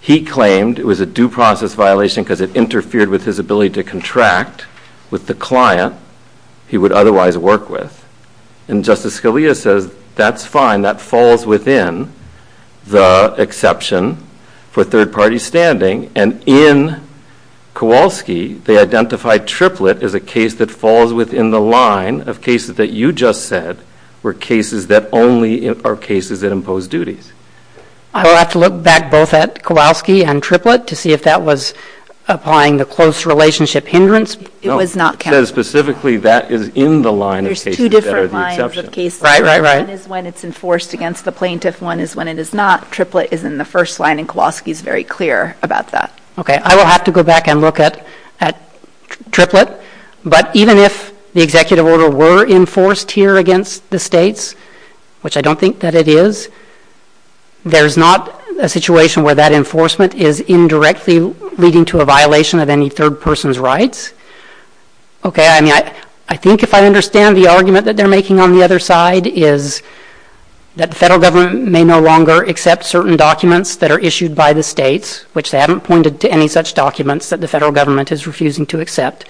He claimed it was a due process violation because it interfered with his ability to contract with the client he would otherwise work with. And Justice Scalia says that's fine. That falls within the exception for third party standing. And in Kowalski, they identified triplet as a case that falls within the line of cases that you just said were cases that only are cases that impose duties. I'll have to look back both at Kowalski and triplet to see if that was applying the close relationship hindrance. It was not. There's two different lines of cases. One is when it's enforced against the plaintiff. One is when it is not. Triplet is in the first line, and Kowalski is very clear about that. Okay. I will have to go back and look at triplet. But even if the executive order were enforced here against the states, which I don't think that it is, there's not a situation where that enforcement is indirectly leading to a violation of any third person's rights. Okay. I mean, I think if I understand the argument that they're making on the other side is that the federal government may no longer accept certain documents that are issued by the states, which they haven't pointed to any such documents that the federal government is refusing to accept,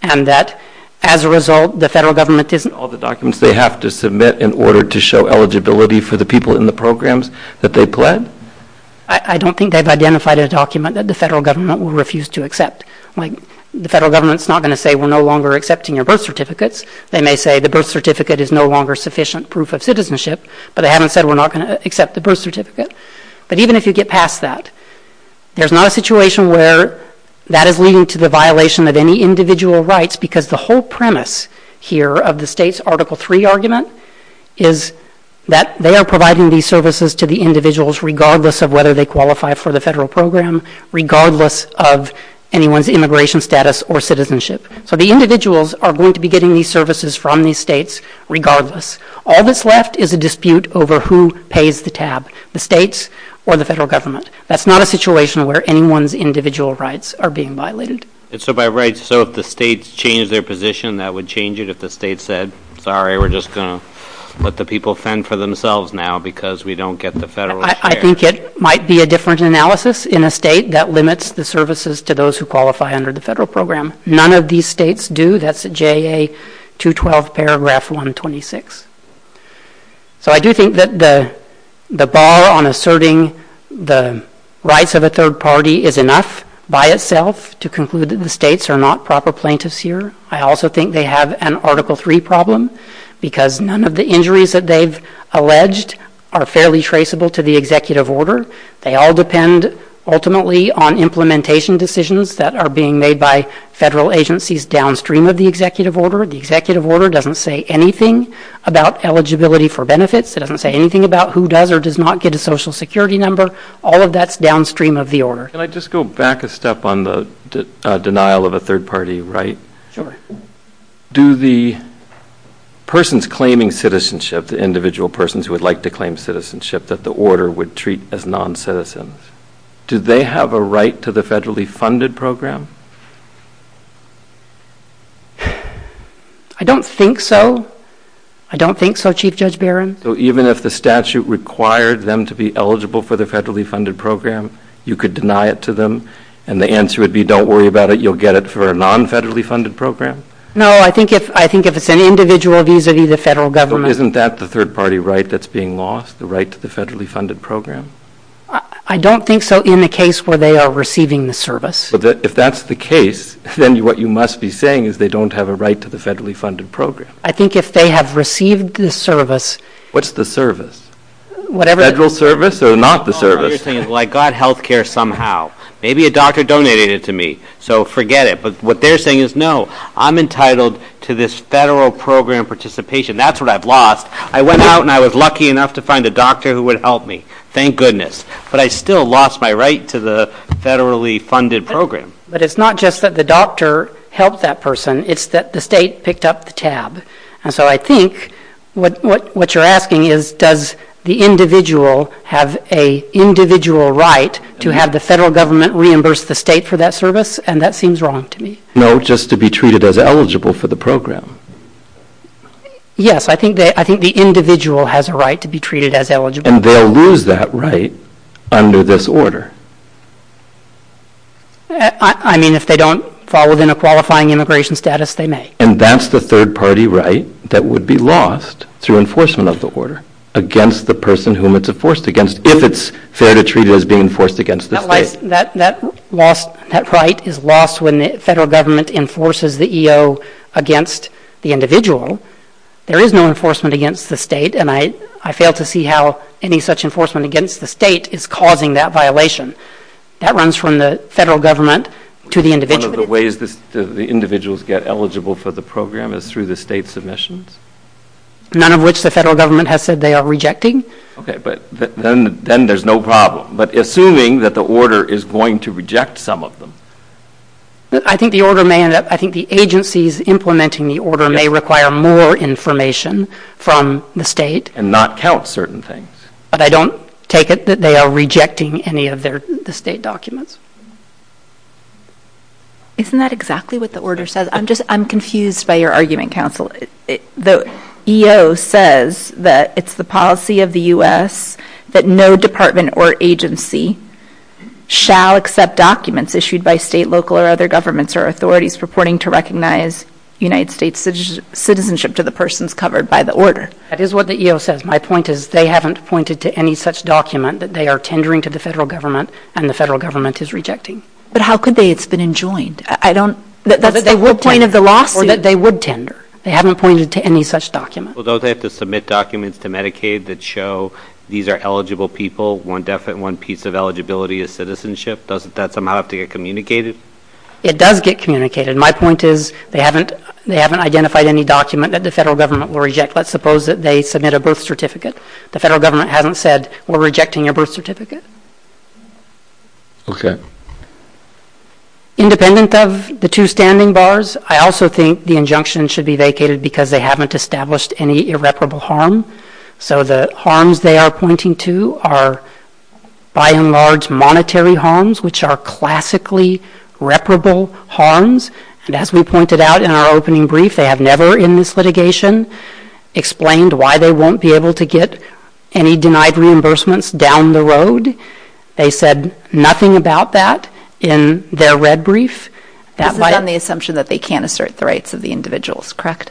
and that, as a result, the federal government isn't… All the documents they have to submit in order to show eligibility for the people in the programs that they've pled? I don't think they've identified a document that the federal government will refuse to accept. The federal government is not going to say we're no longer accepting your birth certificates. They may say the birth certificate is no longer sufficient proof of citizenship, but they haven't said we're not going to accept the birth certificate. But even if you get past that, there's not a situation where that is leading to the violation of any individual rights because the whole premise here of the state's Article III argument is that they are providing these services to the individuals regardless of whether they qualify for the federal program, regardless of anyone's immigration status or citizenship. So the individuals are going to be getting these services from these states regardless. All that's left is a dispute over who pays the tab. The states or the federal government. That's not a situation where anyone's individual rights are being violated. So if the states change their position, that would change it if the states said, sorry, we're just going to let the people fend for themselves now because we don't get the federal… I think it might be a different analysis in a state that limits the services to those who qualify under the federal program. None of these states do. That's JA 212 paragraph 126. So I do think that the bar on asserting the rights of a third party is enough by itself to conclude that the states are not proper plaintiffs here. I also think they have an Article III problem because none of the injuries that they've alleged are fairly traceable to the executive order. They all depend ultimately on implementation decisions that are being made by federal agencies downstream of the executive order. The executive order doesn't say anything about eligibility for benefits. It doesn't say anything about who does or does not get a social security number. All of that's downstream of the order. Can I just go back a step on the denial of a third party right? Sure. Do the persons claiming citizenship, the individual persons who would like to claim citizenship that the order would treat as noncitizens, do they have a right to the federally funded program? I don't think so. I don't think so, Chief Judge Barron. So even if the statute required them to be eligible for the federally funded program, you could deny it to them, and the answer would be don't worry about it. You'll get it for a non-federally funded program? No. I think if it's an individual, these would be the federal government. Isn't that the third party right that's being lost, the right to the federally funded program? I don't think so in the case where they are receiving the service. If that's the case, then what you must be saying is they don't have a right to the federally funded program. I think if they have received the service. What's the service? Federal service or not the service? Well, I got health care somehow. Maybe a doctor donated it to me, so forget it. But what they're saying is no, I'm entitled to this federal program participation. That's what I've lost. I went out and I was lucky enough to find a doctor who would help me. Thank goodness. But I still lost my right to the federally funded program. But it's not just that the doctor helped that person. It's that the state picked up the tab. And so I think what you're asking is does the individual have an individual right to have the federal government reimburse the state for that service? And that seems wrong to me. No, just to be treated as eligible for the program. Yes, I think the individual has a right to be treated as eligible. And they'll lose that right under this order. I mean, if they don't fall within a qualifying immigration status, they may. And that's the third-party right that would be lost to enforcement of the order against the person whom it's enforced against, if it's fair to treat it as being enforced against the state. That right is lost when the federal government enforces the EO against the individual. There is no enforcement against the state, and I fail to see how any such enforcement against the state is causing that violation. That runs from the federal government to the individual. One of the ways the individuals get eligible for the program is through the state submissions? None of which the federal government has said they are rejecting. Okay. But then there's no problem. But assuming that the order is going to reject some of them. I think the agencies implementing the order may require more information from the state. And not count certain things. But I don't take it that they are rejecting any of the state documents. Isn't that exactly what the order says? I'm just confused by your argument, counsel. The EO says that it's the policy of the U.S. that no department or agency shall accept documents issued by state, local, or other governments or authorities reporting to recognize United States citizenship to the persons covered by the order. That is what the EO says. My point is they haven't pointed to any such document that they are tendering to the federal government and the federal government is rejecting. But how could they? It's been enjoined. I don't... That they will point at the law? Or that they would tender. They haven't pointed to any such document. Well, those have to submit documents to Medicaid that show these are eligible people. One piece of eligibility is citizenship. Doesn't that somehow have to get communicated? It does get communicated. My point is they haven't identified any document that the federal government will reject. Let's suppose that they submit a birth certificate. The federal government hasn't said we're rejecting your birth certificate. Okay. Independent of the two standing bars, I also think the injunction should be vacated because they haven't established any irreparable harm. So the harms they are pointing to are by and large monetary harms which are classically reparable harms. And as we pointed out in our opening brief, they have never in this litigation explained why they won't be able to get any denied reimbursements down the road. They said nothing about that in their red brief. This is on the assumption that they can't assert the rights of the individuals, correct?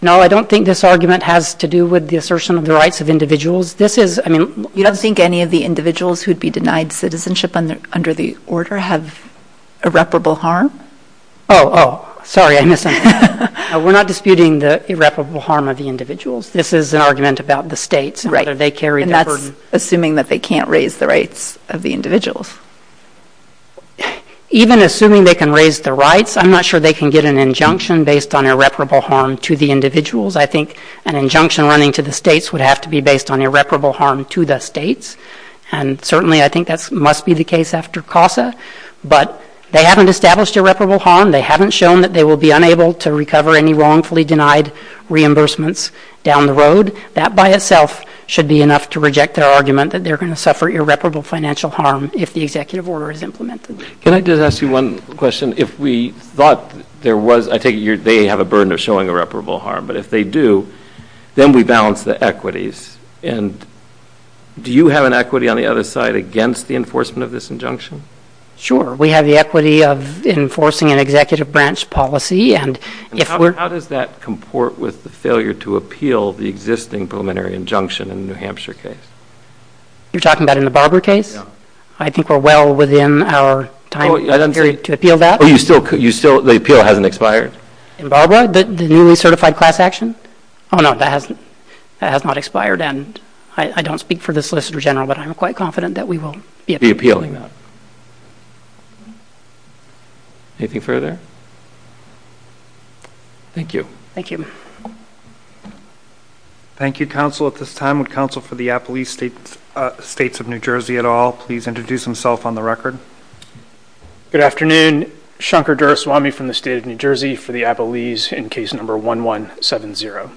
No, I don't think this argument has to do with the assertion of the rights of individuals. You don't think any of the individuals who'd be denied citizenship under the order have irreparable harm? Oh, sorry, I missed something. We're not disputing the irreparable harm of the individuals. This is an argument about the states and whether they carry the burden. And that's assuming that they can't raise the rights of the individuals. Even assuming they can raise the rights, I'm not sure they can get an injunction based on irreparable harm to the individuals. I think an injunction running to the states would have to be based on irreparable harm to the states. And certainly I think that must be the case after CASA. But they haven't established irreparable harm. They haven't shown that they will be unable to recover any wrongfully denied reimbursements down the road. That by itself should be enough to reject their argument that they're going to suffer irreparable financial harm if the executive order is implemented. Can I just ask you one question? If we thought there was, I think they have a burden of showing irreparable harm, but if they do, then we balance the equities. And do you have an equity on the other side against the enforcement of this injunction? Sure. We have the equity of enforcing an executive branch policy. How does that comport with the failure to appeal the existing preliminary injunction in the New Hampshire case? You're talking about in the Barber case? I think we're well within our time period to appeal that. The appeal hasn't expired? In Barber, the newly certified class action? Oh, no, that has not expired. And I don't speak for the Solicitor General, but I'm quite confident that we will be appealing that. Anything further? Thank you. Thank you. Thank you, counsel. At this time, would counsel for the Appalachian States of New Jersey at all please introduce himself on the record? Good afternoon. Shankar Duraswamy from the state of New Jersey for the Appalachians in case number 1170.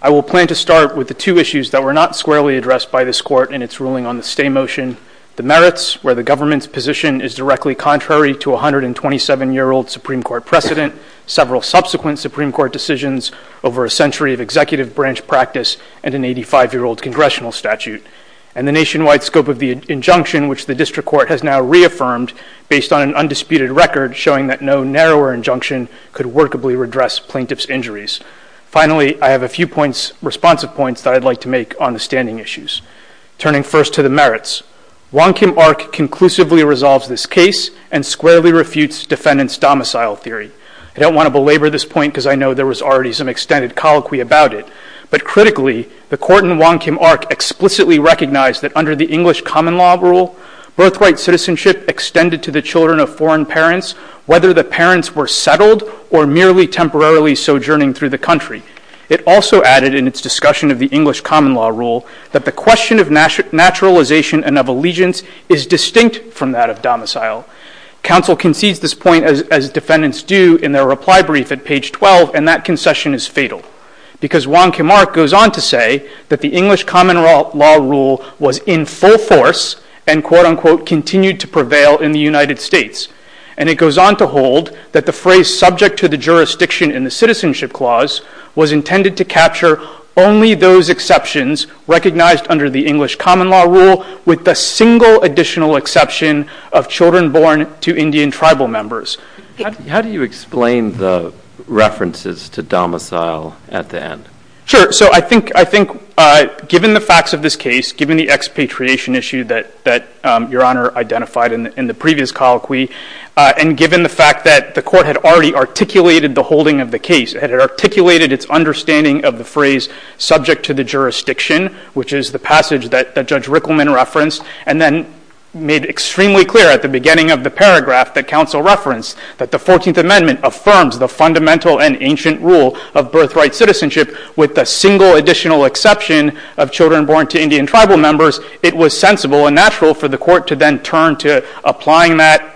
I will plan to start with the two issues that were not squarely addressed by this court in its ruling on the stay motion. The merits, where the government's position is directly contrary to a 127-year-old Supreme Court precedent, several subsequent Supreme Court decisions, over a century of executive branch practice, and an 85-year-old congressional statute. And the nationwide scope of the injunction, which the district court has now reaffirmed based on an undisputed record showing that no narrower injunction could workably redress plaintiff's injuries. Finally, I have a few points, responsive points, that I'd like to make on the standing issues. Turning first to the merits, Wong Kim Ark conclusively resolves this case and squarely refutes defendant's domicile theory. I don't want to belabor this point because I know there was already some extended colloquy about it. But critically, the court in Wong Kim Ark explicitly recognized that under the English common law rule, birthright citizenship extended to the children of foreign parents whether the parents were settled or merely temporarily sojourning through the country. It also added in its discussion of the English common law rule that the question of naturalization and of allegiance is distinct from that of domicile. Counsel concedes this point, as defendants do, in their reply brief at page 12, and that concession is fatal because Wong Kim Ark goes on to say that the English common law rule was in full force and quote-unquote continued to prevail in the United States. And it goes on to hold that the phrase subject to the jurisdiction in the citizenship clause was intended to capture only those exceptions recognized under the English common law rule with the single additional exception of children born to Indian tribal members. How do you explain the references to domicile at the end? Sure, so I think given the facts of this case, given the expatriation issue that Your Honor identified in the previous colloquy, and given the fact that the court had already articulated the holding of the case, had articulated its understanding of the phrase subject to the jurisdiction, which is the passage that Judge Rickleman referenced, and then made extremely clear at the beginning of the paragraph that counsel referenced that the 14th Amendment affirms the fundamental and ancient rule of birthright citizenship with the single additional exception of children born to Indian tribal members. It was sensible and natural for the court to then turn to applying that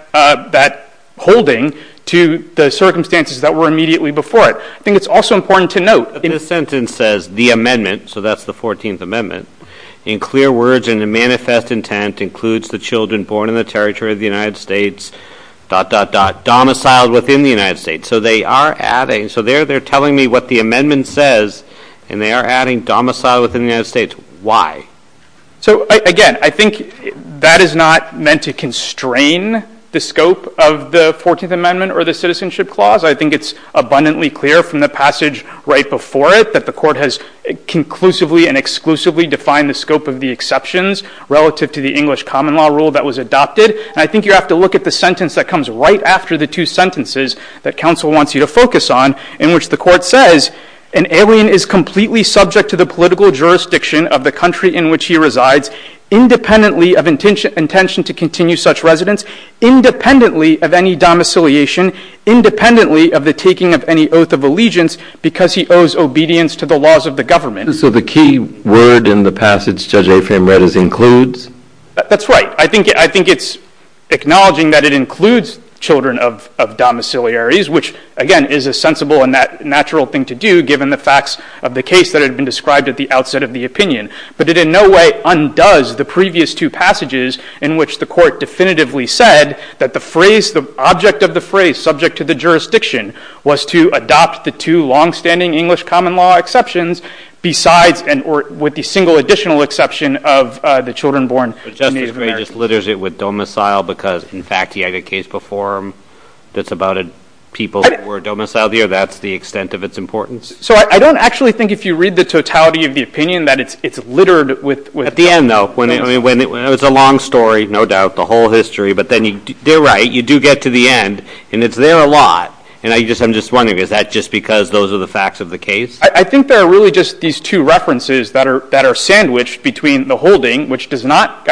holding to the circumstances that were immediately before it. I think it's also important to note that the sentence says the amendment, so that's the 14th Amendment, in clear words and in manifest intent includes the children born in the territory of the United States... domiciled within the United States. So they're telling me what the amendment says, and they are adding domicile within the United States. Why? Again, I think that is not meant to constrain the scope of the 14th Amendment or the Citizenship Clause. I think it's abundantly clear from the passage right before it that the court has conclusively and exclusively defined the scope of the exceptions relative to the English common law rule that was adopted, and I think you have to look at the sentence that comes right after the two sentences that counsel wants you to focus on in which the court says, an alien is completely subject to the political jurisdiction of the country in which he resides independently of intention to continue such residence, independently of any domiciliation, independently of the taking of any oath of allegiance because he owes obedience to the laws of the government. So the key word in the passage, Judge Ephraim read, is includes? That's right. I think it's acknowledging that it includes children of domiciliaries, which, again, is a sensible and natural thing to do given the facts of the case that had been described at the outset of the opinion. But it in no way undoes the previous two passages in which the court definitively said that the object of the phrase subject to the jurisdiction was to adopt the two long-standing English common law exceptions with the single additional exception of the children born in these various... But Judge Ephraim just litters it with domicile because, in fact, he had a case before him that's about people who were domiciled here. That's the extent of its importance. So I don't actually think if you read the totality of the opinion that it's littered with... At the end, though, when it was a long story, no doubt, the whole history, but then you're right, you do get to the end, and it's there a lot. And I'm just wondering, is that just because those are the facts of the case? I think they're really just these two references that are sandwiched between the holding, which does not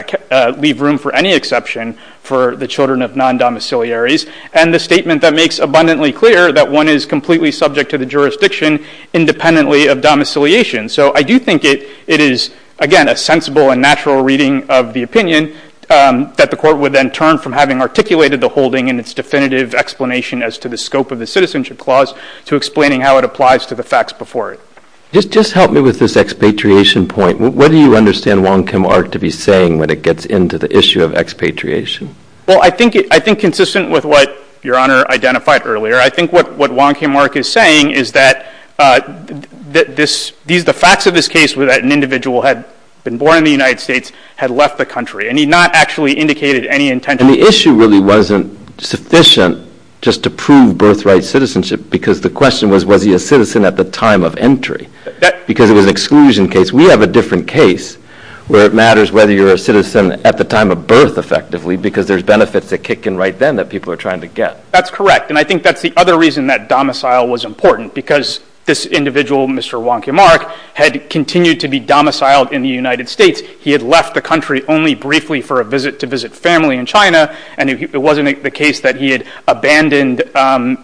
leave room for any exception for the children of non-domiciliaries, and the statement that makes abundantly clear that one is completely subject to the jurisdiction independently of domiciliation. So I do think it is, again, a sensible and natural reading of the opinion that the court would then turn from having articulated the holding in its definitive explanation as to the scope of the citizenship clause to explaining how it applies to the facts before it. Just help me with this expatriation point. What do you understand Wong Kim Ark to be saying when it gets into the issue of expatriation? Well, I think consistent with what Your Honor identified earlier, I think what Wong Kim Ark is saying is that the facts of this case were that an individual had been born in the United States, had left the country, and he not actually indicated any intention... And the issue really wasn't sufficient just to prove birthright citizenship, because the question was, was he a citizen at the time of entry? Because it was an exclusion case. We have a different case where it matters whether you're a citizen at the time of birth, effectively, because there's benefits that kick in right then that people are trying to get. That's correct. And I think that's the other reason that domicile was important, because this individual, Mr. Wong Kim Ark, had continued to be domiciled in the United States. He had left the country only briefly for a visit to visit family in China, and it wasn't the case that he had abandoned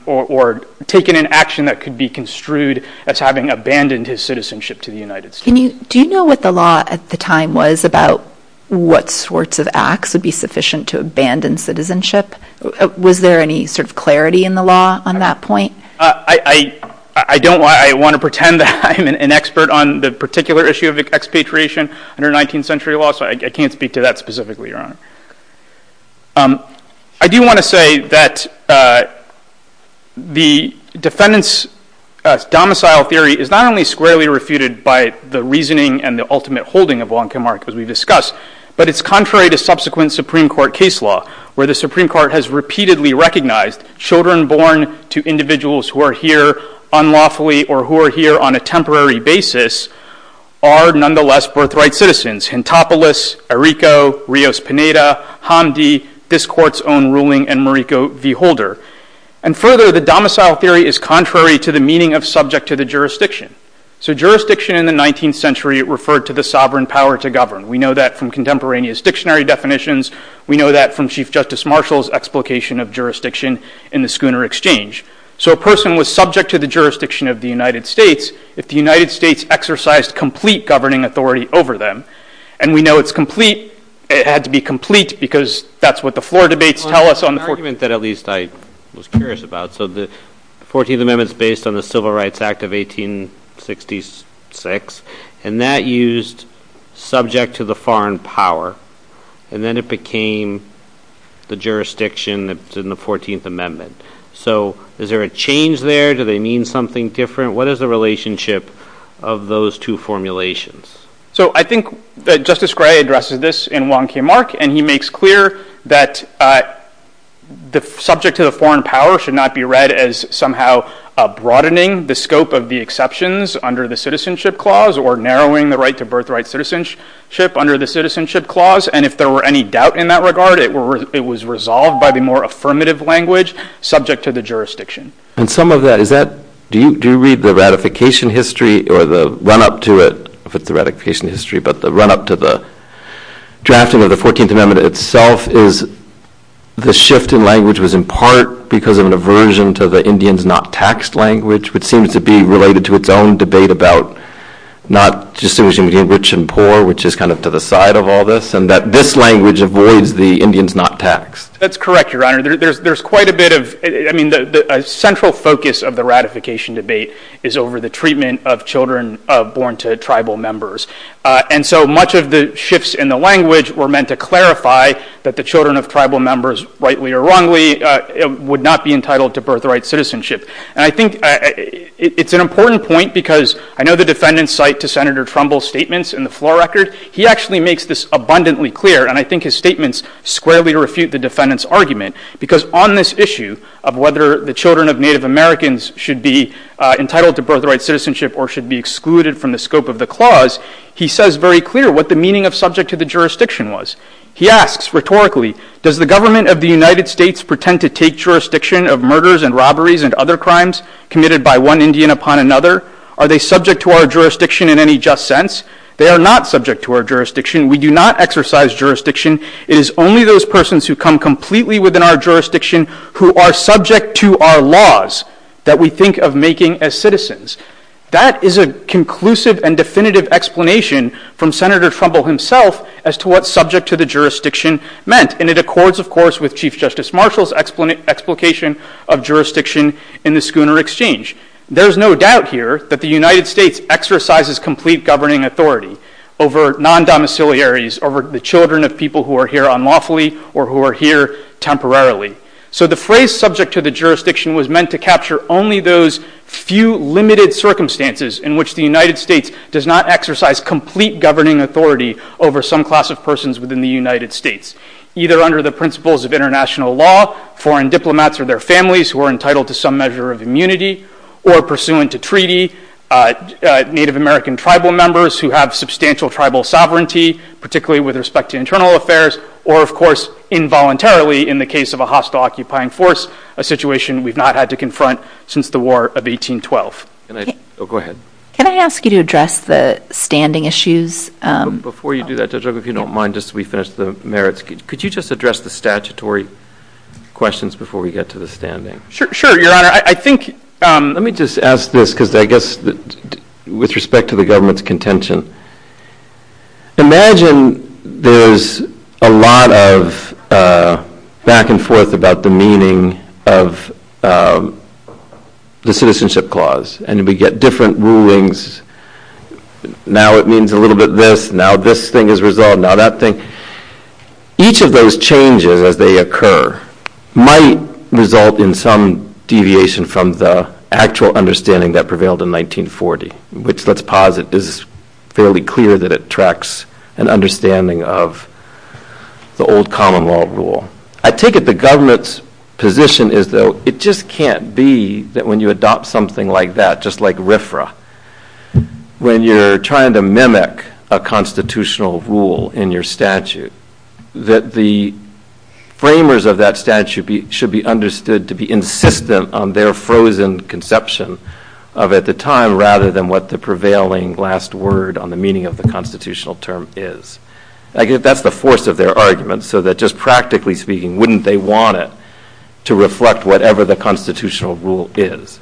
or taken an action that could be construed as having abandoned his citizenship to the United States. Do you know what the law at the time was about what sorts of acts would be sufficient to abandon citizenship? Was there any sort of clarity in the law on that point? I don't. I want to pretend that I'm an expert on the particular issue of expatriation under 19th century law, so I can't speak to that specifically, Your Honor. I do want to say that the defendant's domicile theory is not only squarely refuted by the reasoning and the ultimate holding of Wong Kim Ark, as we discussed, but it's contrary to subsequent Supreme Court case law, where the Supreme Court has repeatedly recognized children born to individuals who are here unlawfully or who are here on a temporary basis are nonetheless birthright citizens. Hintopolis, Errico, Rios Pineda, Hamdi, this court's own ruling, and Mariko V. Holder. And further, the domicile theory is contrary to the meaning of subject to the jurisdiction. So jurisdiction in the 19th century referred to the sovereign power to govern. We know that from contemporaneous dictionary definitions. We know that from Chief Justice Marshall's explication of jurisdiction in the Schooner Exchange. So a person was subject to the jurisdiction of the United States if the United States exercised complete governing authority over them. And we know it's complete. It had to be complete because that's what the floor debates tell us on the 14th. One argument that at least I was curious about. So the 14th Amendment's based on the Civil Rights Act of 1866, and that used subject to the foreign power, and then it became the jurisdiction that's in the 14th Amendment. So is there a change there? Do they mean something different? What is the relationship of those two formulations? So I think that Justice Gray addresses this in 1K Mark, and he makes clear that the subject to the foreign power should not be read as somehow broadening the scope of the exceptions under the Citizenship Clause or narrowing the right to birthright citizenship under the Citizenship Clause. And if there were any doubt in that regard, it was resolved by the more affirmative language subject to the jurisdiction. And some of that, is that... Do you read the ratification history or the run-up to it with the ratification history, but the run-up to the drafting of the 14th Amendment itself is the shift in language was in part because of an aversion to the Indians not taxed language, which seems to be related to its own debate about not distinguishing rich and poor, which is kind of to the side of all this, and that this language avoids the Indians not taxed. That's correct, Your Honor. There's quite a bit of... I mean, a central focus of the ratification debate is over the treatment of children born to tribal members. And so much of the shifts in the language were meant to clarify that the children of tribal members, rightly or wrongly, would not be entitled to birthright citizenship. And I think it's an important point because I know the defendant's site to Senator Trumbull's statements in the floor record, he actually makes this abundantly clear, and I think his statements squarely refute the defendant's argument, because on this issue of whether the children of Native Americans should be entitled to birthright citizenship or should be excluded from the scope of the clause, he says very clear what the meaning of subject to the jurisdiction was. He asks rhetorically, does the government of the United States pretend to take jurisdiction of murders and robberies and other crimes committed by one Indian upon another? Are they subject to our jurisdiction in any just sense? They are not subject to our jurisdiction. We do not exercise jurisdiction. It is only those persons who come completely within our jurisdiction who are subject to our laws that we think of making as citizens. That is a conclusive and definitive explanation from Senator Trumbull himself as to what subject to the jurisdiction meant. And it accords, of course, with Chief Justice Marshall's explication of jurisdiction in the Schooner Exchange. There's no doubt here that the United States exercises complete governing authority over non-domiciliaries, over the children of people who are here unlawfully or who are here temporarily. So the phrase subject to the jurisdiction was meant to capture only those few limited circumstances in which the United States does not exercise complete governing authority over some class of persons within the United States, either under the principles of international law, foreign diplomats or their families who are entitled to some measure of immunity or pursuant to treaty, Native American tribal members who have substantial tribal sovereignty, particularly with respect to internal affairs, or, of course, involuntarily, in the case of a hostile occupying force, a situation we've not had to confront since the War of 1812. Oh, go ahead. Can I ask you to address the standing issues? Before you do that, Judge Rucker, if you don't mind, just so we finish the merits, could you just address the statutory questions before we get to the standing? Sure, Your Honor. I think... Let me just ask this, because I guess with respect to the government's contention, imagine there's a lot of back and forth about the meaning of the Citizenship Clause, and we get different rulings. Now it means a little bit of this. Now this thing is resolved. Now that thing. Each of those changes as they occur might result in some deviation from the actual understanding that prevailed in 1940, which, let's posit, is fairly clear that it tracks an understanding of the old common law rule. I take it the government's position is, though, it just can't be that when you adopt something like that, just like RFRA, when you're trying to mimic a constitutional rule in your statute, that the framers of that statute should be understood to be insistent on their frozen conception of, at the time, rather than what the prevailing last word on the meaning of the constitutional term is. I guess that's the force of their argument, so that just practically speaking, wouldn't they want it to reflect whatever the constitutional rule is?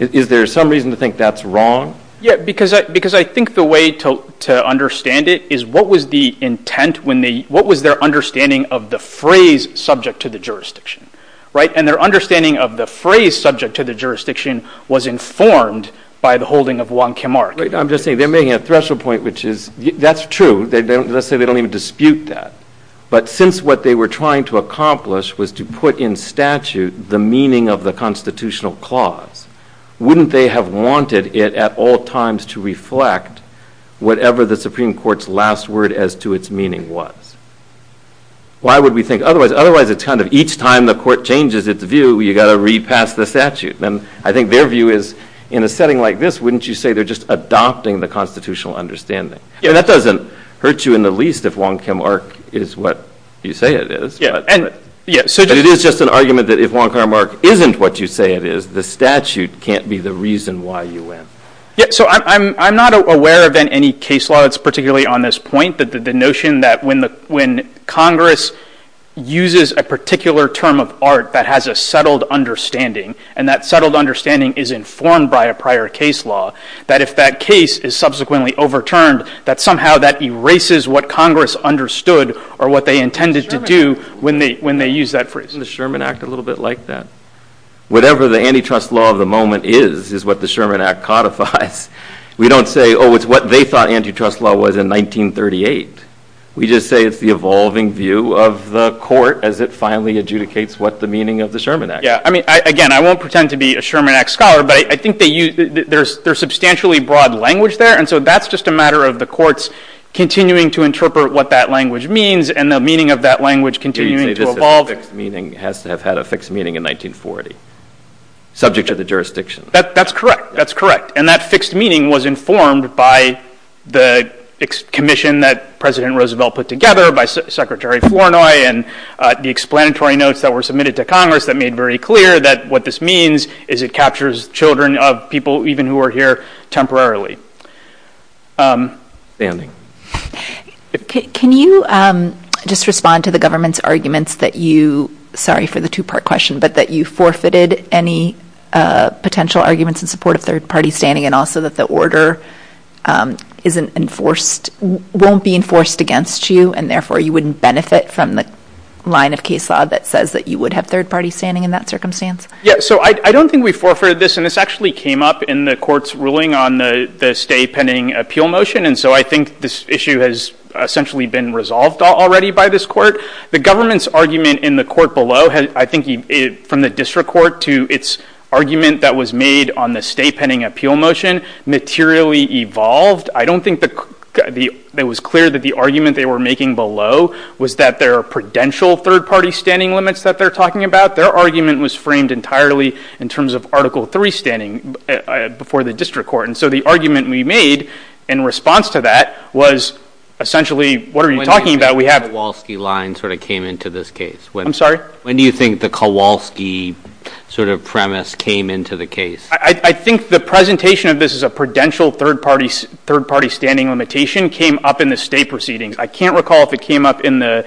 Is there some reason to think that's wrong? Yeah, because I think the way to understand it is what was the intent when they... What was their understanding of the phrase subject to the jurisdiction, right? And their understanding of the phrase subject to the jurisdiction was informed by the holding of Wong Kim Ark. I'm just saying, they're making a threshold point, which is, that's true. Let's say they don't even dispute that. But since what they were trying to accomplish was to put in statute the meaning of the constitutional clause, wouldn't they have wanted it at all times to reflect whatever the Supreme Court's last word as to its meaning was? Why would we think otherwise? Otherwise, it's kind of each time the court changes its view, you got to read past the statute. And I think their view is, in a setting like this, wouldn't you say they're just adopting the constitutional understanding? And that doesn't hurt you in the least if Wong Kim Ark is what you say it is. But it is just an argument that if Wong Kim Ark isn't what you say it is, the statute can't be the reason why you win. Yeah, so I'm not aware of any case laws particularly on this point, the notion that when Congress uses a particular term of art that has a settled understanding and that settled understanding is informed by a prior case law, that if that case is subsequently overturned, that somehow that erases what Congress understood or what they intended to do when they use that phrase. Isn't the Sherman Act a little bit like that? Whatever the antitrust law of the moment is is what the Sherman Act codifies. We don't say, oh, it's what they thought antitrust law was in 1938. We just say it's the evolving view of the court as it finally adjudicates what the meaning of the Sherman Act is. Yeah, I mean, again, I won't pretend to be a Sherman Act scholar, but I think there's substantially broad language there and so that's just a matter of the courts continuing to interpret what that language means and the meaning of that language continuing to evolve. Meaning has to have had a fixed meaning in 1940 subject to the jurisdiction. That's correct, that's correct. And that fixed meaning was informed by the commission that President Roosevelt put together by Secretary Flournoy and the explanatory notes that were submitted to Congress that made very clear that what this means is it captures children of people even who are here temporarily. Standing. Can you just respond to the government's arguments that you, sorry for the two-part question, but that you forfeited any potential arguments in support of third-party standing and also that the order isn't enforced, won't be enforced against you and therefore you wouldn't benefit from the line of case law that says that you would have third-party standing in that circumstance? Yeah, so I don't think we forfeited this and this actually came up in the court's ruling on the stay pending appeal motion and so I think this issue has essentially been resolved already by this court. The government's argument in the court below I think from the district court to its argument that was made on the stay pending appeal motion materially evolved. I don't think it was clear that the argument they were making below was that there are prudential third-party standing limits that they're talking about. Their argument was framed entirely in terms of Article III standing before the district court and so the argument we made in response to that was essentially what are you talking about? When do you think the Kowalski line sort of came into this case? I'm sorry? When do you think the Kowalski sort of premise came into the case? I think the presentation of this as a prudential third-party standing limitation came up in the stay proceeding. I can't recall if it came up in the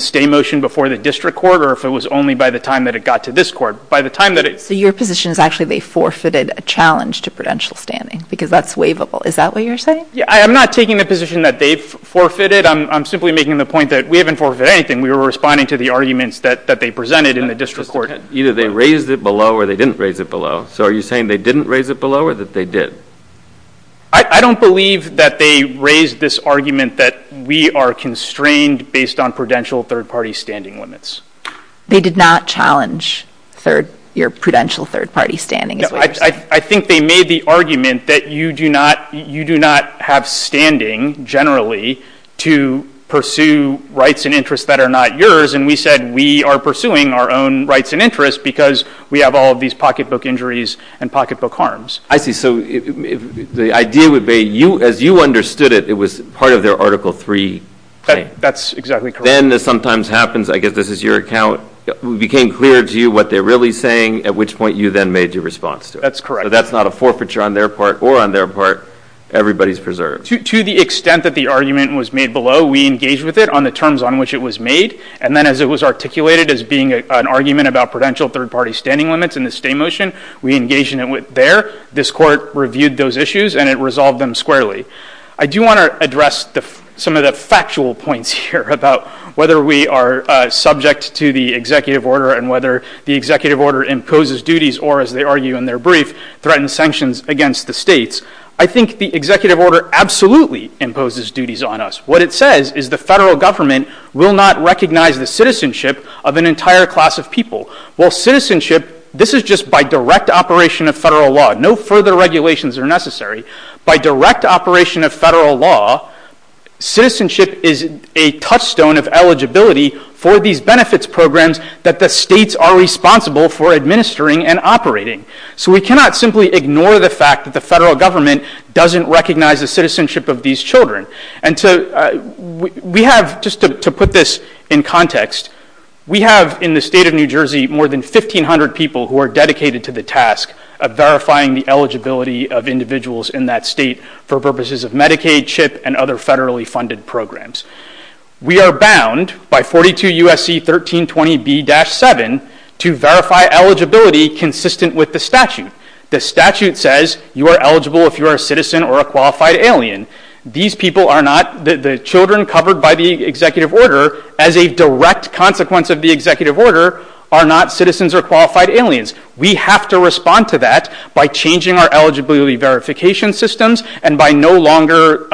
stay motion before the district court or if it was only by the time that it got to this court. By the time that it... So your position is actually they forfeited a challenge to prudential standing because that's waivable. Is that what you're saying? Yeah, I'm not taking the position that they forfeited. I'm simply making the point that we haven't forfeited anything. We were responding to the arguments that they presented in the district court. Either they raised it below or they didn't raise it below. So are you saying they didn't raise it below or that they did? I don't believe that they raised this argument that we are constrained based on prudential third-party standing limits. They did not challenge your prudential third-party standing. I think they made the argument that you do not have standing generally to pursue rights and interests that are not yours, and we said we are pursuing our own rights and interests because we have all of these pocketbook injuries and pocketbook harms. I see. So the idea would be as you understood it, it was part of their Article III claim. That's exactly correct. Then this sometimes happens, I guess this is your account, it became clear to you what they're really saying at which point you then made your response to it. That's correct. So that's not a forfeiture on their part or on their part. Everybody's preserved. To the extent that the argument was made below, we engaged with it on the terms on which it was made, and then as it was articulated as being an argument about prudential third-party standing limits and the stay motion, we engaged in it there. This court reviewed those issues and it resolved them squarely. I do want to address some of the factual points here about whether we are subject to the executive order and whether the executive order imposes duties or, as they argue in their brief, threatens sanctions against the states. I think the executive order absolutely imposes duties on us. What it says is the federal government will not recognize the citizenship of an entire class of people. Well, citizenship, this is just by direct operation of federal law. No further regulations are necessary. By direct operation of federal law, citizenship is a touchstone of eligibility for these benefits programs that the states are responsible for administering and operating. So we cannot simply ignore the fact that the federal government doesn't recognize the citizenship of these children. Just to put this in context, we have in the state of New Jersey more than 1,500 people who are dedicated to the task of verifying the eligibility of individuals in that state for purposes of Medicaid, CHIP, and other federally funded programs. We are bound by 42 U.S.C. 1320B-7 to verify eligibility consistent with the statute. The statute says you are eligible if you are a citizen or a qualified alien. These people are not, the children covered by the executive order as a direct consequence of the executive order are not citizens or qualified aliens. We have to respond to that by changing our eligibility verification systems and by no longer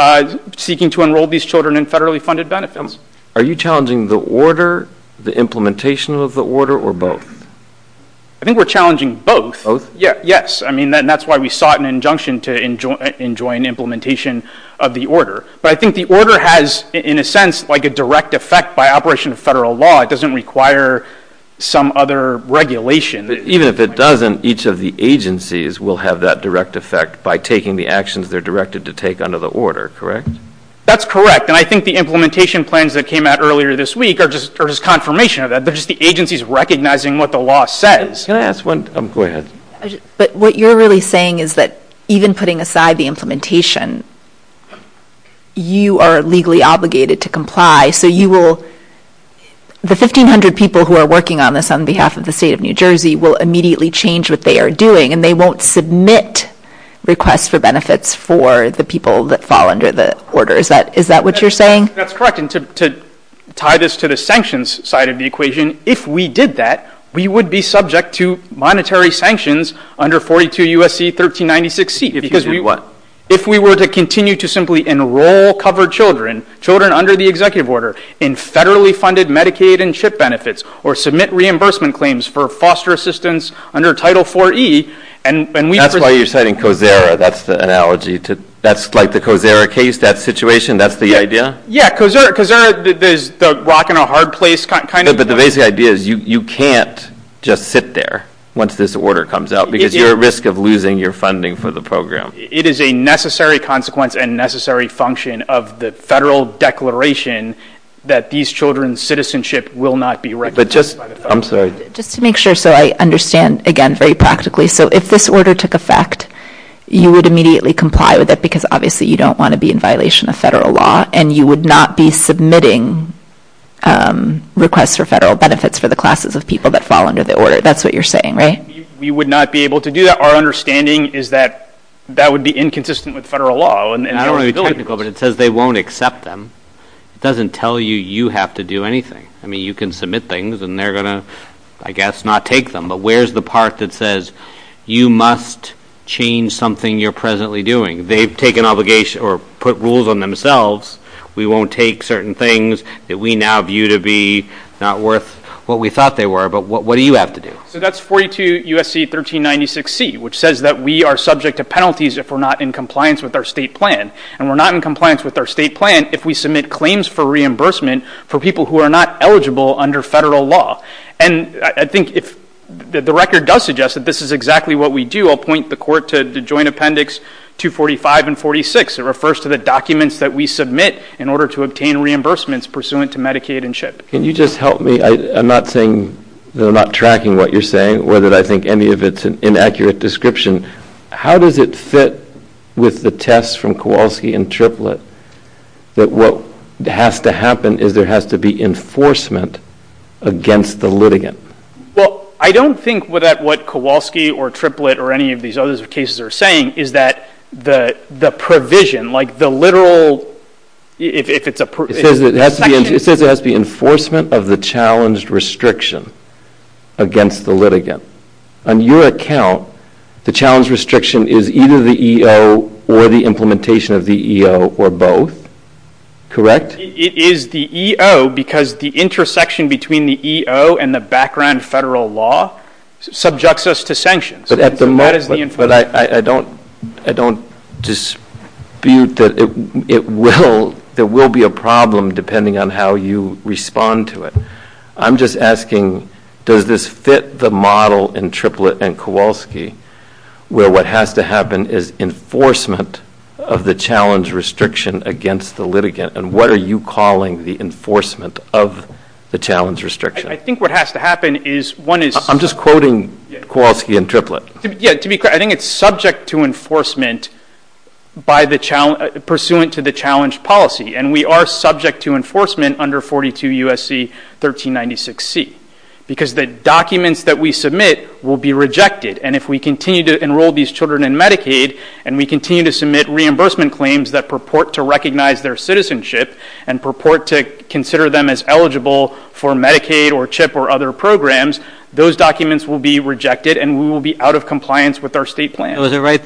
seeking to enroll these children in federally funded benefits. Are you challenging the order, the implementation of the order, or both? I think we're challenging both. Both? Yes. That's why we sought an injunction to enjoy an implementation of the order. But I think the order has, in a sense, a direct effect by operation of federal law. It doesn't require some other regulation. Even if it doesn't, each of the agencies will have that direct effect by taking the actions they're directed to take under the order, correct? That's correct. And I think the implementation plans that came out earlier this week are just confirmation of that. They're just the agencies recognizing what the law says. Can I ask one? Go ahead. But what you're really saying is that even putting aside the implementation, you are legally obligated to comply. So you will, the 1,500 people who are working on this on behalf of the state of New Jersey will immediately change what they are doing, and they won't submit requests for benefits for the people that fall under the order. Is that what you're saying? That's correct. And to tie this to the sanctions side of the equation, if we did that, we would be subject to monetary sanctions under 42 U.S.C. 1396C. Because we what? If we were to continue to simply enroll covered children, children under the executive order, in federally funded Medicaid and CHIP benefits, or submit reimbursement claims for foster assistance under Title IV-E. That's why you're citing COSERA. That's the analogy. That's like the COSERA case? That situation? That's the idea? Yeah, COSERA. There's the rock in a hard place kind of thing. But the basic idea is you can't just sit there once this order comes out, because you're at risk of losing your funding for the program. It is a necessary consequence and necessary function of the federal declaration that these children's citizenship will not be recognized by the federal government. I'm sorry. Just to make sure, sir, I understand, again, very practically. So if this order took effect, you would immediately comply with it, because obviously you don't want to be in violation of federal law, and you would not be submitting requests for federal benefits for the classes of people that fall under the order. That's what you're saying, right? We would not be able to do that. Our understanding is that that would be inconsistent with federal law. And I don't want to be technical, but it says they won't accept them. It doesn't tell you you have to do anything. I mean, you can submit things, and they're going to, I guess, not take them. But where's the part that says you must change something you're presently doing? They've taken obligation or put rules on themselves. We won't take certain things that we now view to be not worth what we thought they were. But what do you have to do? So that's 42 U.S.C. 1396C, which says that we are subject to penalties if we're not in compliance with our state plan. And we're not in compliance with our state plan if we submit claims for reimbursement for people who are not eligible under federal law. And I think if the record does suggest that this is exactly what we do, I'll point the court to the Joint Appendix 245 and 46. It refers to the documents that we submit in order to obtain reimbursements pursuant to Medicaid and CHIP. Can you just help me? I'm not saying that I'm not tracking what you're saying or that I think any of it's an inaccurate description. How does it fit with the test from Kowalski and Triplett that what has to happen is there has to be enforcement against the litigant? Well, I don't think that what Kowalski or Triplett or any of these other cases are saying is that the provision, like the literal... It says it has to be enforcement of the challenge restriction against the litigant. On your account, the challenge restriction is either the EO or the implementation of the EO or both, correct? It is the EO because the intersection between the EO and the background federal law subjects us to sanctions. But I don't dispute that there will be a problem depending on how you respond to it. I'm just asking, does this fit the model in Triplett and Kowalski where what has to happen is enforcement of the challenge restriction against the litigant and what are you calling the enforcement of the challenge restriction? I think what has to happen is one is... I'm just quoting Kowalski and Triplett. I think it's subject to enforcement pursuant to the challenge policy and we are subject to enforcement under 42 U.S.C. 1396C because the documents that we submit will be rejected and if we continue to enroll these children in Medicaid and we continue to submit reimbursement claims that purport to recognize their citizenship and purport to consider them as eligible for Medicaid or CHIP or other programs, those documents will be rejected and we will be out of compliance with our state plan. Was it right,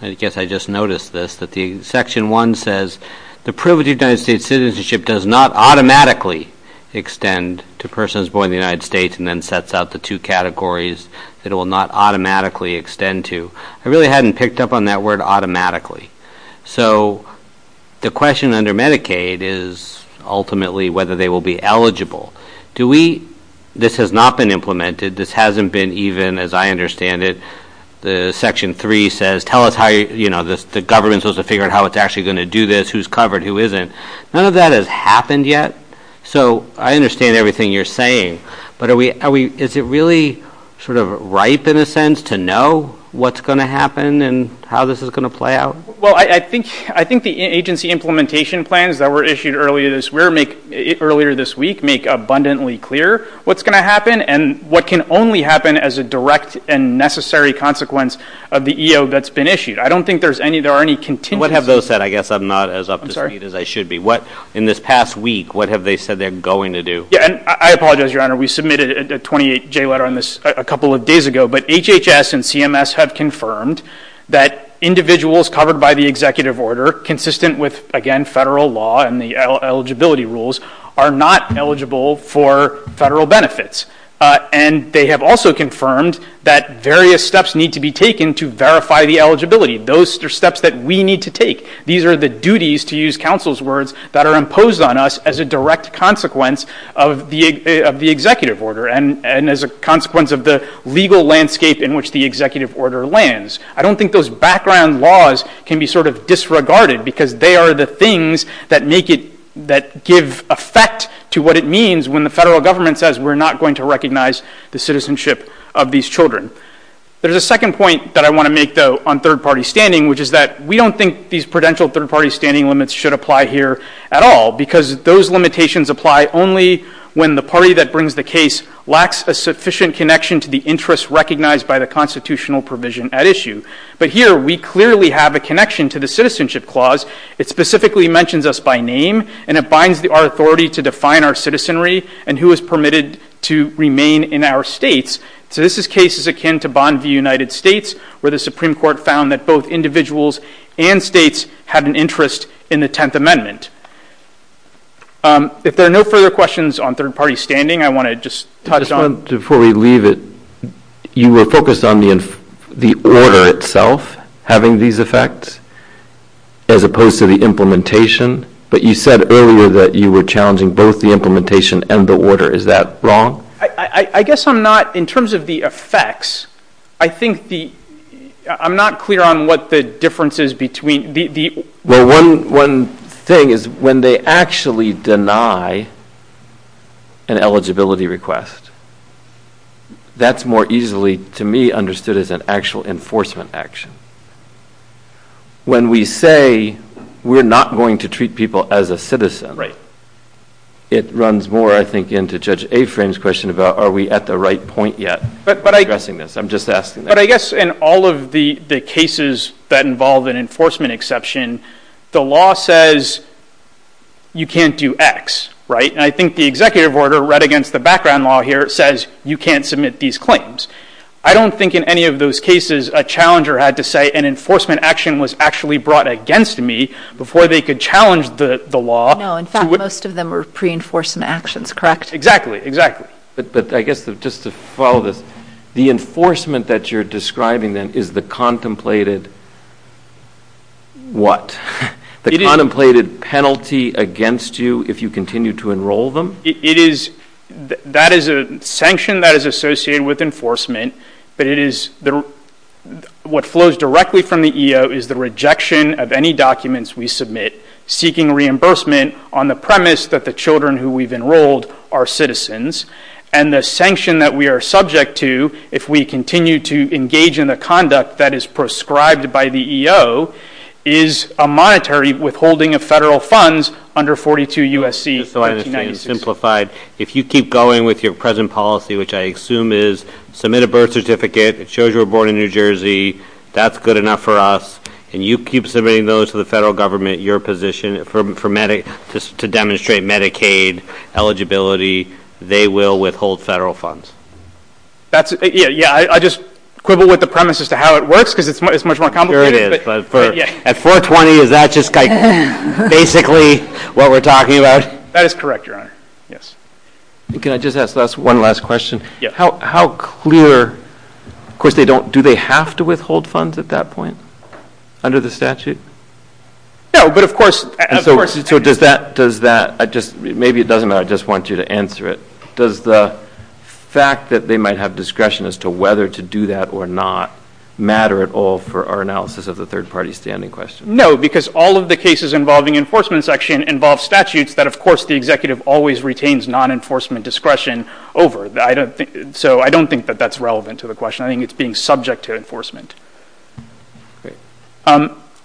I guess I just noticed this, that Section 1 says, the privilege of United States citizenship does not automatically extend to persons born in the United States and then sets out the two categories that it will not automatically extend to. I really hadn't picked up on that word automatically. So the question under Medicaid is ultimately whether they will be eligible. This has not been implemented. This hasn't been even, as I understand it, the Section 3 says, the government is supposed to figure out how it's actually going to do this, who's covered, who isn't. None of that has happened yet. So I understand everything you're saying, but is it really sort of right, in a sense, to know what's going to happen and how this is going to play out? Well, I think the agency implementation plans that were issued earlier this week make abundantly clear what's going to happen and what can only happen as a direct and necessary consequence of the EO that's been issued. I don't think there are any contingencies. What have those said? I guess I'm not as up to speed as I should be. In this past week, what have they said they're going to do? I apologize, Your Honor. We submitted a 28-J letter on this a couple of days ago, but HHS and CMS have confirmed that individuals covered by the executive order, consistent with, again, federal law and the eligibility rules, are not eligible for federal benefits. And they have also confirmed that various steps need to be taken to verify the eligibility. Those are steps that we need to take. These are the duties, to use counsel's words, that are imposed on us as a direct consequence of the executive order and as a consequence of the legal landscape in which the executive order lands. I don't think those background laws can be sort of disregarded because they are the things that make it, that give effect to what it means when the federal government says we're not going to recognize the citizenship of these children. There's a second point that I want to make, though, on third-party standing, which is that we don't think these prudential third-party standing limits should apply here at all because those limitations apply only when the party that brings the case lacks a sufficient connection to the interests recognized by the constitutional provision at issue. But here we clearly have a connection to the citizenship clause. It specifically mentions us by name and it binds our authority to define our citizenry and who is permitted to remain in our states. So this is cases akin to Bond v. United States where the Supreme Court found that both individuals and states have an interest in the Tenth Amendment. If there are no further questions on third-party standing, I want to just touch on... Just one, before we leave it, you were focused on the order itself having these effects as opposed to the implementation, but you said earlier that you were challenging both the implementation and the order. Is that wrong? I guess I'm not... In terms of the effects, I think the... I'm not clear on what the difference is between... Well, one thing is when they actually deny an eligibility request, that's more easily, to me, understood as an actual enforcement action. When we say we're not going to treat people as a citizen, it runs more, I think, into Judge Afrain's question about are we at the right point yet? I'm just asking that. But I guess in all of the cases that involve an enforcement exception, the law says you can't do X, right? And I think the executive order, read against the background law here, says you can't submit these claims. I don't think in any of those cases a challenger had to say an enforcement action was actually brought against me before they could challenge the law. No, in fact, most of them were pre-enforcement actions, correct? Exactly, exactly. But I guess just to follow this, the enforcement that you're describing, then, is the contemplated... What? The contemplated penalty against you if you continue to enroll them? It is... That is a sanction that is associated with enforcement. But it is... What flows directly from the EO is the rejection of any documents we submit seeking reimbursement on the premise that the children who we've enrolled are citizens. And the sanction that we are subject to if we continue to engage in the conduct that is prescribed by the EO is a monetary withholding of federal funds under 42 U.S.C. 1996. So I understand, simplified. If you keep going with your present policy, which I assume is, submit a birth certificate, it shows you were born in New Jersey, that's good enough for us, and you keep submitting those to the federal government, your position, to demonstrate Medicaid eligibility, they will withhold federal funds. Yeah, I just quibble with the premise as to how it works, because it's much more complicated. At 420, is that just basically what we're talking about? That is correct, Your Honor. Can I just ask one last question? How clear... Of course, do they have to withhold funds at that point under the statute? No, but of course... So does that... Maybe it doesn't, I just want you to answer it. Does the fact that they might have discretion as to whether to do that or not matter at all for our analysis of the third-party standing question? No, because all of the cases involving enforcement section involve statutes that, of course, the executive always retains non-enforcement discretion over. So I don't think that that's relevant to the question. I think it's being subject to enforcement.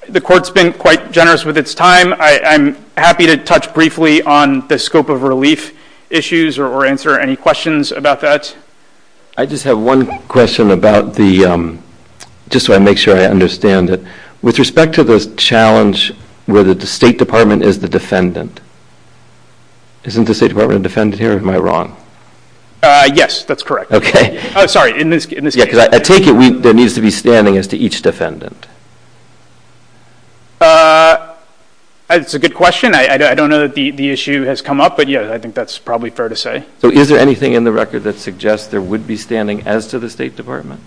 The Court's been quite generous with its time. I'm happy to touch briefly on the scope of relief issues or answer any questions about that. I just have one question about the... Just to make sure I understand it. With respect to the challenge where the State Department is the defendant, isn't the State Department a defendant here, or am I wrong? Yes, that's correct. Sorry, in this case. I take it there needs to be standing as to each defendant. That's a good question. I don't know that the issue has come up, but, yeah, I think that's probably fair to say. So is there anything in the record that suggests there would be standing as to the State Department?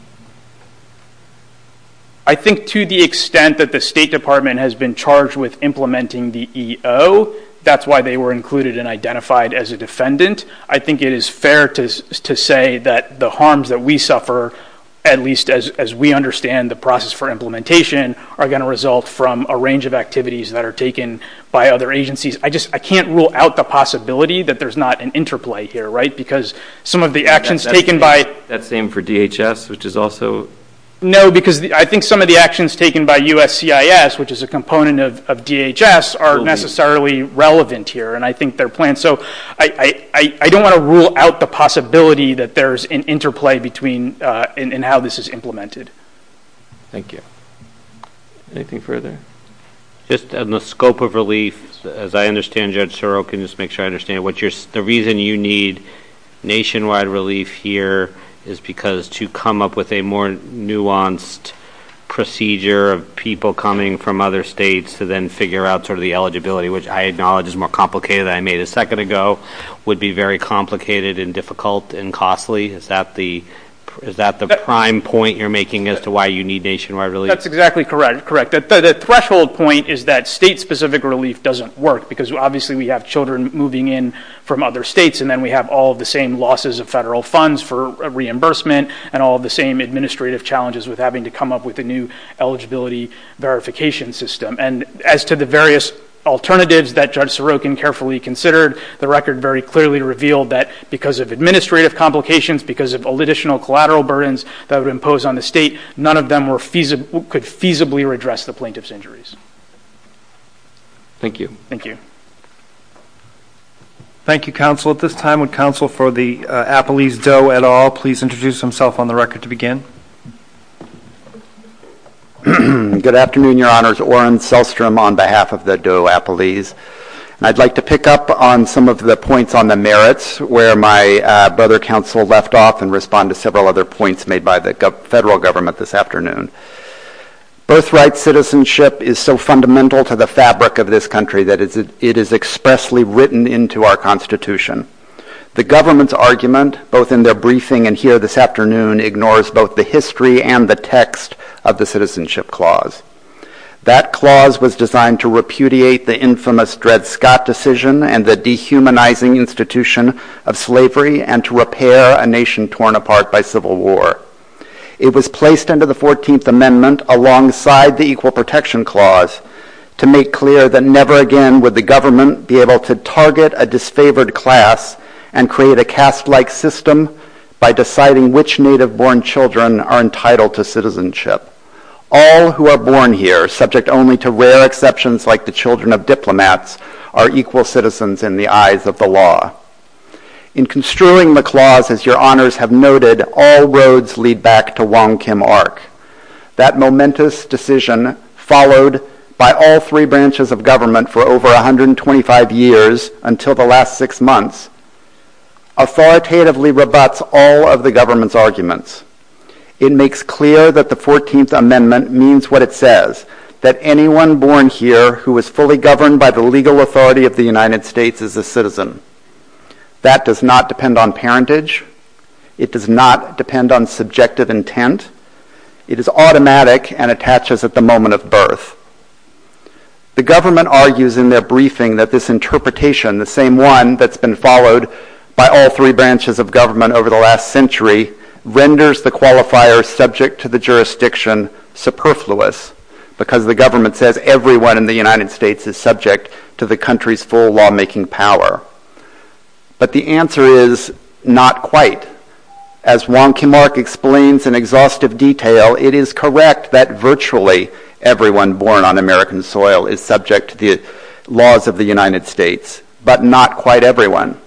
I think to the extent that the State Department has been charged with implementing the EO, that's why they were included and identified as a defendant. I think it is fair to say that the harms that we suffer, at least as we understand the process for implementation, are going to result from a range of activities that are taken by other agencies. I just can't rule out the possibility that there's not an interplay here, right? Because some of the actions taken by... That same for DHS, which is also... No, because I think some of the actions taken by USCIS, which is a component of DHS, are necessarily relevant here, and I think they're planned. So I don't want to rule out the possibility that there's an interplay in how this is implemented. Thank you. Anything further? Just on the scope of relief, as I understand, Judge Sorrell, can you just make sure I understand, the reason you need nationwide relief here is because to come up with a more nuanced procedure of people coming from other states to then figure out sort of the eligibility, which I acknowledge is more complicated than I made a second ago, would be very complicated and difficult and costly? Is that the prime point you're making as to why you need nationwide relief? That's exactly correct. The threshold point is that state-specific relief doesn't work because obviously we have children moving in from other states and then we have all the same losses of federal funds for reimbursement and all the same administrative challenges with having to come up with a new eligibility verification system. And as to the various alternatives that Judge Sorokin carefully considered, the record very clearly revealed that because of administrative complications, because of additional collateral burdens that would impose on the state, none of them could feasibly redress the plaintiff's injuries. Thank you. Thank you. Thank you, counsel. At this time, would counsel for the Appalese DOE et al. please introduce himself on the record to begin? Good afternoon, Your Honors. Oren Selstrom on behalf of the DOE Appalese. I'd like to pick up on some of the points on the merits where my brother counsel left off and respond to several other points made by the federal government this afternoon. Birthright citizenship is so fundamental to the fabric of this country that it is expressly written into our Constitution. The government's argument, both in their briefing and here this afternoon, ignores both the history and the text of the Citizenship Clause. That clause was designed to repudiate the infamous Dred Scott decision and the dehumanizing institution of slavery and to repair a nation torn apart by civil war. It was placed under the 14th Amendment alongside the Equal Protection Clause to make clear that never again would the government be able to target a disfavored class and create a caste-like system by deciding which native-born children are entitled to citizenship. All who are born here, subject only to rare exceptions like the children of diplomats, are equal citizens in the eyes of the law. In construing the clause, as your honors have noted, all roads lead back to Wong Kim Ark. That momentous decision, followed by all three branches of government for over 125 years until the last six months, authoritatively rebuts all of the government's arguments. It makes clear that the 14th Amendment means what it says, that anyone born here who is fully governed by the legal authority of the United States is a citizen. That does not depend on parentage. It does not depend on subjective intent. It is automatic and attaches at the moment of birth. The government argues in their briefing that this interpretation, the same one that's been followed by all three branches of government over the last century, renders the qualifier subject to the jurisdiction superfluous because the government says everyone in the United States is subject to the country's full lawmaking power. But the answer is, not quite. As Wong Kim Ark explains in exhaustive detail, it is correct that virtually everyone born on American soil is subject to the laws of the United States, but not quite everyone.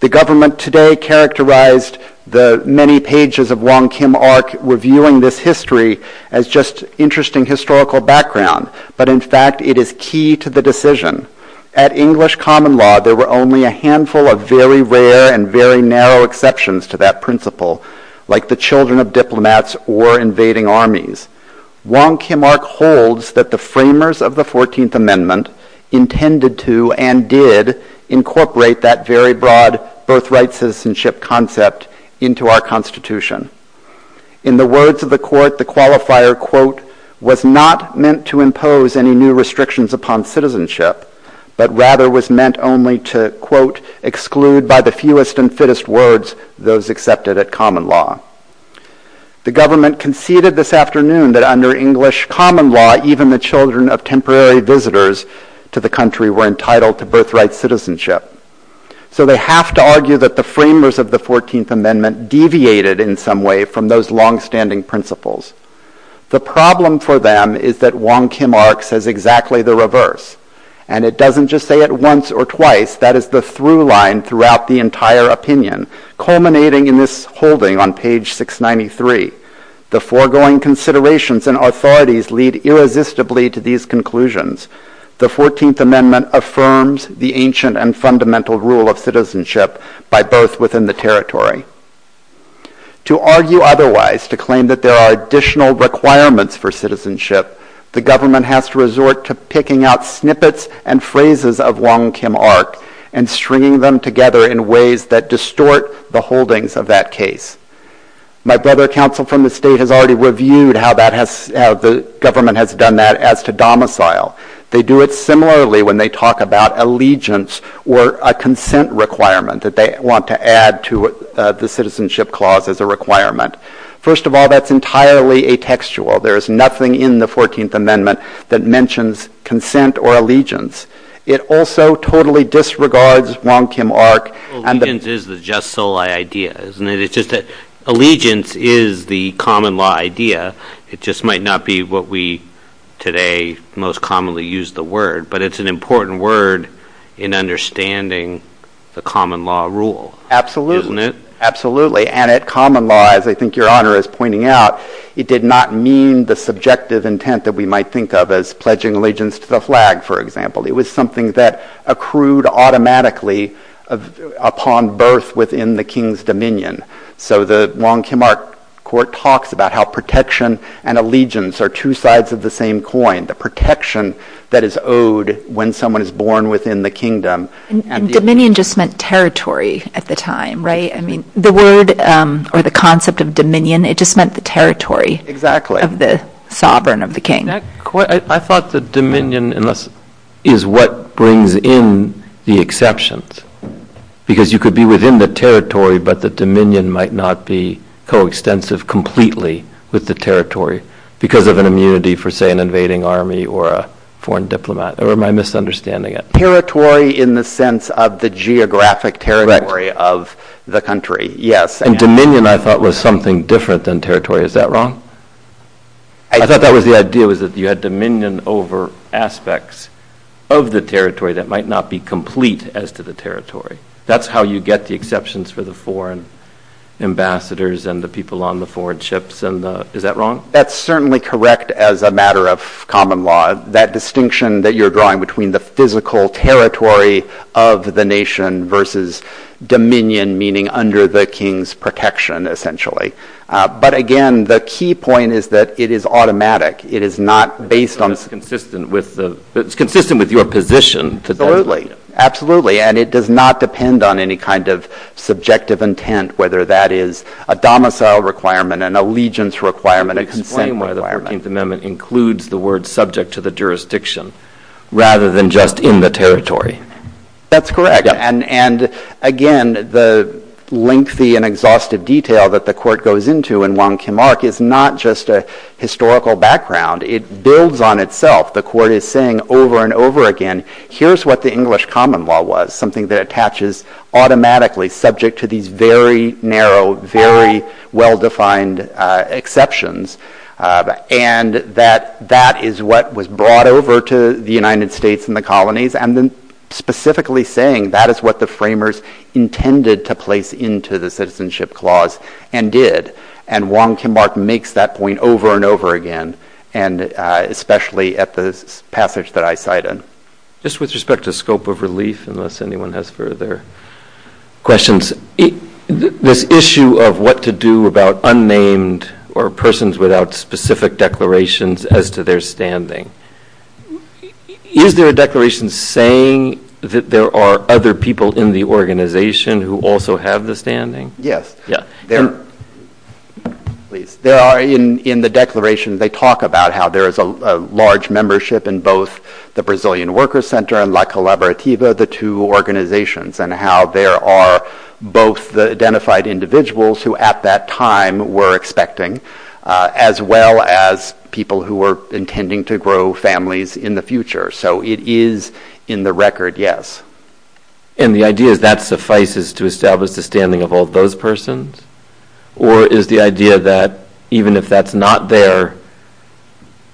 The government today characterized the many pages of Wong Kim Ark reviewing this history as just interesting historical background, but in fact it is key to the decision. At English common law, there were only a handful of very rare and very narrow exceptions to that principle, like the children of diplomats or invading armies. Wong Kim Ark holds that the framers of the 14th Amendment intended to and did incorporate that very broad birthright citizenship concept into our Constitution. In the words of the court, the qualifier, quote, was not meant to impose any new restrictions upon citizenship, but rather was meant only to, quote, exclude by the fewest and fittest words those accepted at common law. The government conceded this afternoon that under English common law, even the children of temporary visitors to the country were entitled to birthright citizenship. So they have to argue that the framers of the 14th Amendment deviated in some way from those longstanding principles. The problem for them is that Wong Kim Ark says exactly the reverse, and it doesn't just say it once or twice, that is the through line throughout the entire opinion, culminating in this holding on page 693. The foregoing considerations and authorities lead irresistibly to these conclusions. The 14th Amendment affirms the ancient and fundamental rule of citizenship by birth within the territory. To argue otherwise, to claim that there are additional requirements for citizenship, the government has to resort to picking out snippets and phrases of Wong Kim Ark and stringing them together in ways that distort the holdings of that case. My brother counsel from the state has already reviewed how the government has done that as to domicile. They do it similarly when they talk about allegiance or a consent requirement that they want to add to the citizenship clause as a requirement. First of all, that's entirely atextual. There is nothing in the 14th Amendment that mentions consent or allegiance. It also totally disregards Wong Kim Ark. Allegiance is the just soli idea, isn't it? Allegiance is the common law idea. It just might not be what we today most commonly use the word, but it's an important word in understanding the common law rule, isn't it? Absolutely, and at common law, as I think your Honor is pointing out, it did not mean the subjective intent that we might think of as pledging allegiance to the flag, for example. It was something that accrued automatically upon birth within the king's dominion. So the Wong Kim Ark court talks about how protection and allegiance are two sides of the same coin, the protection that is owed when someone is born within the kingdom. Dominion just meant territory at the time, right? I mean, the word or the concept of dominion, it just meant the territory of the sovereign of the king. I thought the dominion is what brings in the exceptions, because you could be within the territory, but the dominion might not be coextensive completely with the territory because of an immunity for, say, an invading army or a foreign diplomat, or am I misunderstanding it? Territory in the sense of the geographic territory of the country, yes. And dominion, I thought, was something different than territory. Is that wrong? I thought that was the idea, was that you had dominion over aspects of the territory that might not be complete as to the territory. That's how you get the exceptions for the foreign ambassadors and the people on the foreign ships. Is that wrong? That's certainly correct as a matter of common law. That distinction that you're drawing between the physical territory of the nation versus dominion, meaning under the king's protection, essentially. But again, the key point is that it is automatic. It is not based on, it's consistent with your position. Absolutely, and it does not depend on any kind of subjective intent, whether that is a domicile requirement, an allegiance requirement, a conflame requirement. The 14th Amendment includes the word subject to the jurisdiction rather than just in the territory. That's correct. And again, the lengthy and exhaustive detail that the court goes into in Wong Kim Ark is not just a historical background. It builds on itself. The court is saying over and over again, here's what the English common law was, something that attaches automatically subject to these very narrow, very well-defined exceptions. And that is what was brought over to the United States and the colonies, and then specifically saying that is what the framers intended to place into the Citizenship Clause and did. And Wong Kim Ark makes that point over and over again, especially at the passage that I cite. Just with respect to scope of release, unless anyone has further questions, this issue of what to do about unnamed or persons without specific declarations as to their standing. Is there a declaration saying that there are other people in the organization who also have the standing? Yes, there are. In the declaration they talk about how there is a large membership in both the Brazilian Workers Center and La Collaborativa, the two organizations, and how there are both the identified individuals who at that time were expecting, as well as people who were intending to grow families in the future. So it is in the record, yes. And the idea is that suffices to establish the standing of all those persons? Or is the idea that even if that's not there,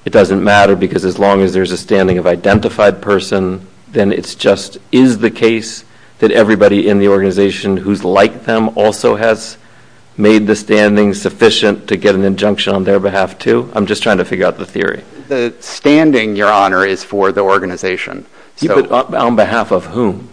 it doesn't matter, because as long as there's a standing of identified person, then it just is the case that everybody in the organization who's like them also has made the standing sufficient to get an injunction on their behalf too? I'm just trying to figure out the theory. The standing, Your Honor, is for the organization. On behalf of whom?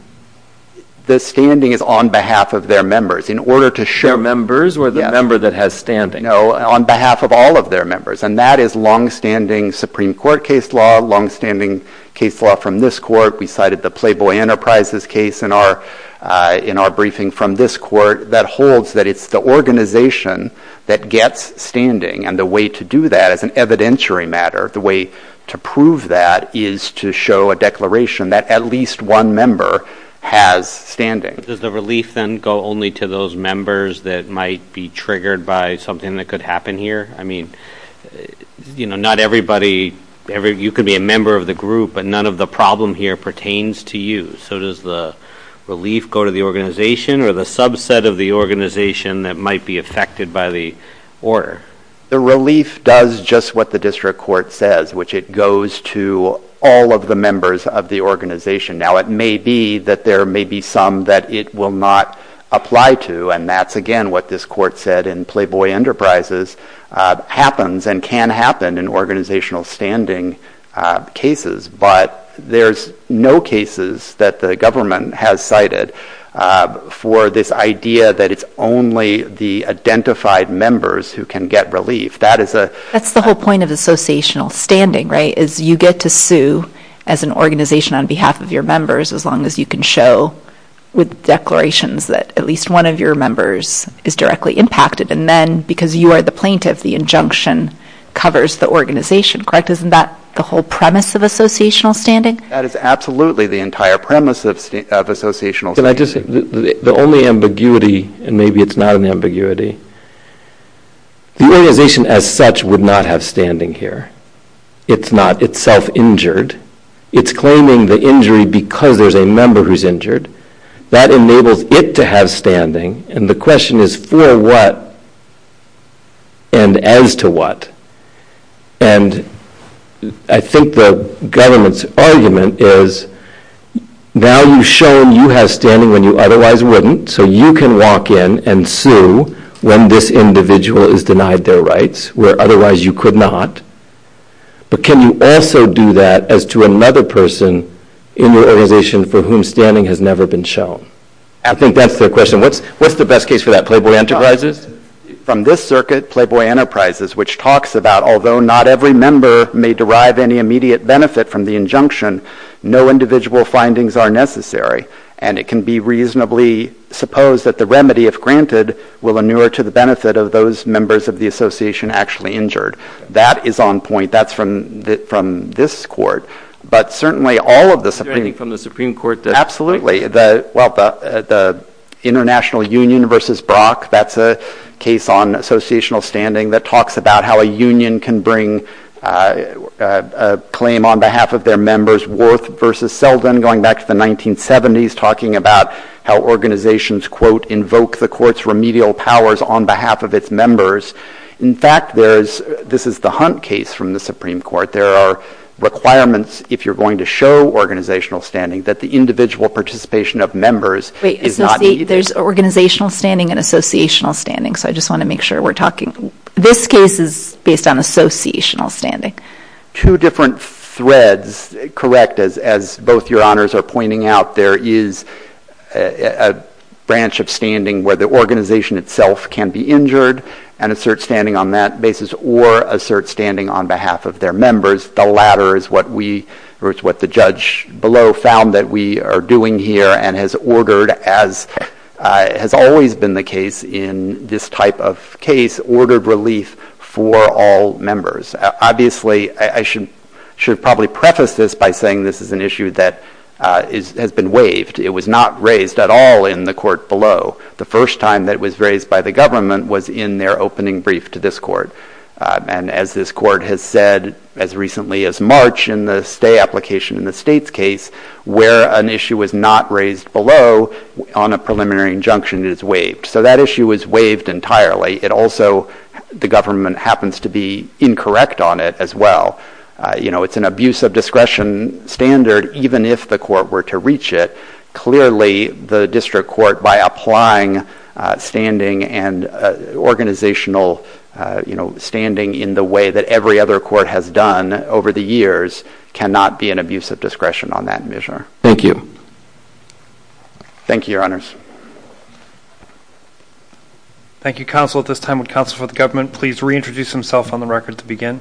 The standing is on behalf of their members. In order to share members with a member that has standing? No, on behalf of all of their members. And that is long-standing Supreme Court case law, long-standing case law from this court. We cited the Playboy Enterprises case in our briefing from this court that holds that it's the organization that gets standing, and the way to do that is an evidentiary matter. The way to prove that is to show a declaration that at least one member has standing. Does the relief then go only to those members that might be triggered by something that could happen here? I mean, you know, not everybody, you could be a member of the group, but none of the problem here pertains to you. So does the relief go to the organization or the subset of the organization that might be affected by the order? The relief does just what the district court says, which it goes to all of the members of the organization. Now, it may be that there may be some that it will not apply to, and that's, again, what this court said in Playboy Enterprises, happens and can happen in organizational standing cases, but there's no cases that the government has cited for this idea that it's only the identified members who can get relief. That's the whole point of associational standing, right, is you get to sue as an organization on behalf of your members as long as you can show with declarations that at least one of your members is directly impacted, and then because you are the plaintiff, the injunction covers the organization, correct? Isn't that the whole premise of associational standing? That is absolutely the entire premise of associational standing. The only ambiguity, and maybe it's not an ambiguity, the organization as such would not have standing here. It's not. It's self-injured. It's claiming the injury because there's a member who's injured. That enables it to have standing, and the question is for what and as to what, and I think the government's argument is, now you've shown you have standing when you otherwise wouldn't, so you can walk in and sue when this individual is denied their rights where otherwise you could not, but can you also do that as to another person in the organization for whom standing has never been shown? I think that's the question. What's the best case for that, Playboy Enterprises? From this circuit, Playboy Enterprises, which talks about although not every member may derive any immediate benefit from the injunction, no individual findings are necessary, and it can be reasonably supposed that the remedy, if granted, will inure to the benefit of those members of the association actually injured. That is on point. That's from this court, but certainly all of the... Is there anything from the Supreme Court that... Absolutely. The International Union versus Brock, that's a case on associational standing that talks about how a union can bring a claim on behalf of their members worth versus seldom going back to the 1970s, talking about how organizations, quote, invoke the court's remedial powers on behalf of its members. In fact, this is the Hunt case from the Supreme Court. There are requirements if you're going to show organizational standing that the individual participation of members is not... Wait, there's organizational standing and associational standing, so I just want to make sure we're talking. This case is based on associational standing. Two different threads. Correct, as both Your Honors are pointing out, there is a branch of standing where the organization itself can be injured and assert standing on that basis or assert standing on behalf of their members. The latter is what we, or it's what the judge below, found that we are doing here and has ordered, as has always been the case in this type of case, ordered relief for all members. Obviously, I should probably preface this by saying this is an issue that has been waived. It was not raised at all in the court below. The first time that it was raised by the government was in their opening brief to this court. As this court has said as recently as March in the stay application in the state's case, where an issue was not raised below on a preliminary injunction, it is waived. So that issue is waived entirely. It also, the government happens to be incorrect on it as well. It's an abuse of discretion standard even if the court were to reach it. Clearly, the district court, by applying standing and organizational standing in the way that every other court has done over the years, cannot be an abuse of discretion on that measure. Thank you. Thank you, Your Honors. Thank you, Counsel. At this time, will Counsel for the Government please reintroduce himself on the record to begin?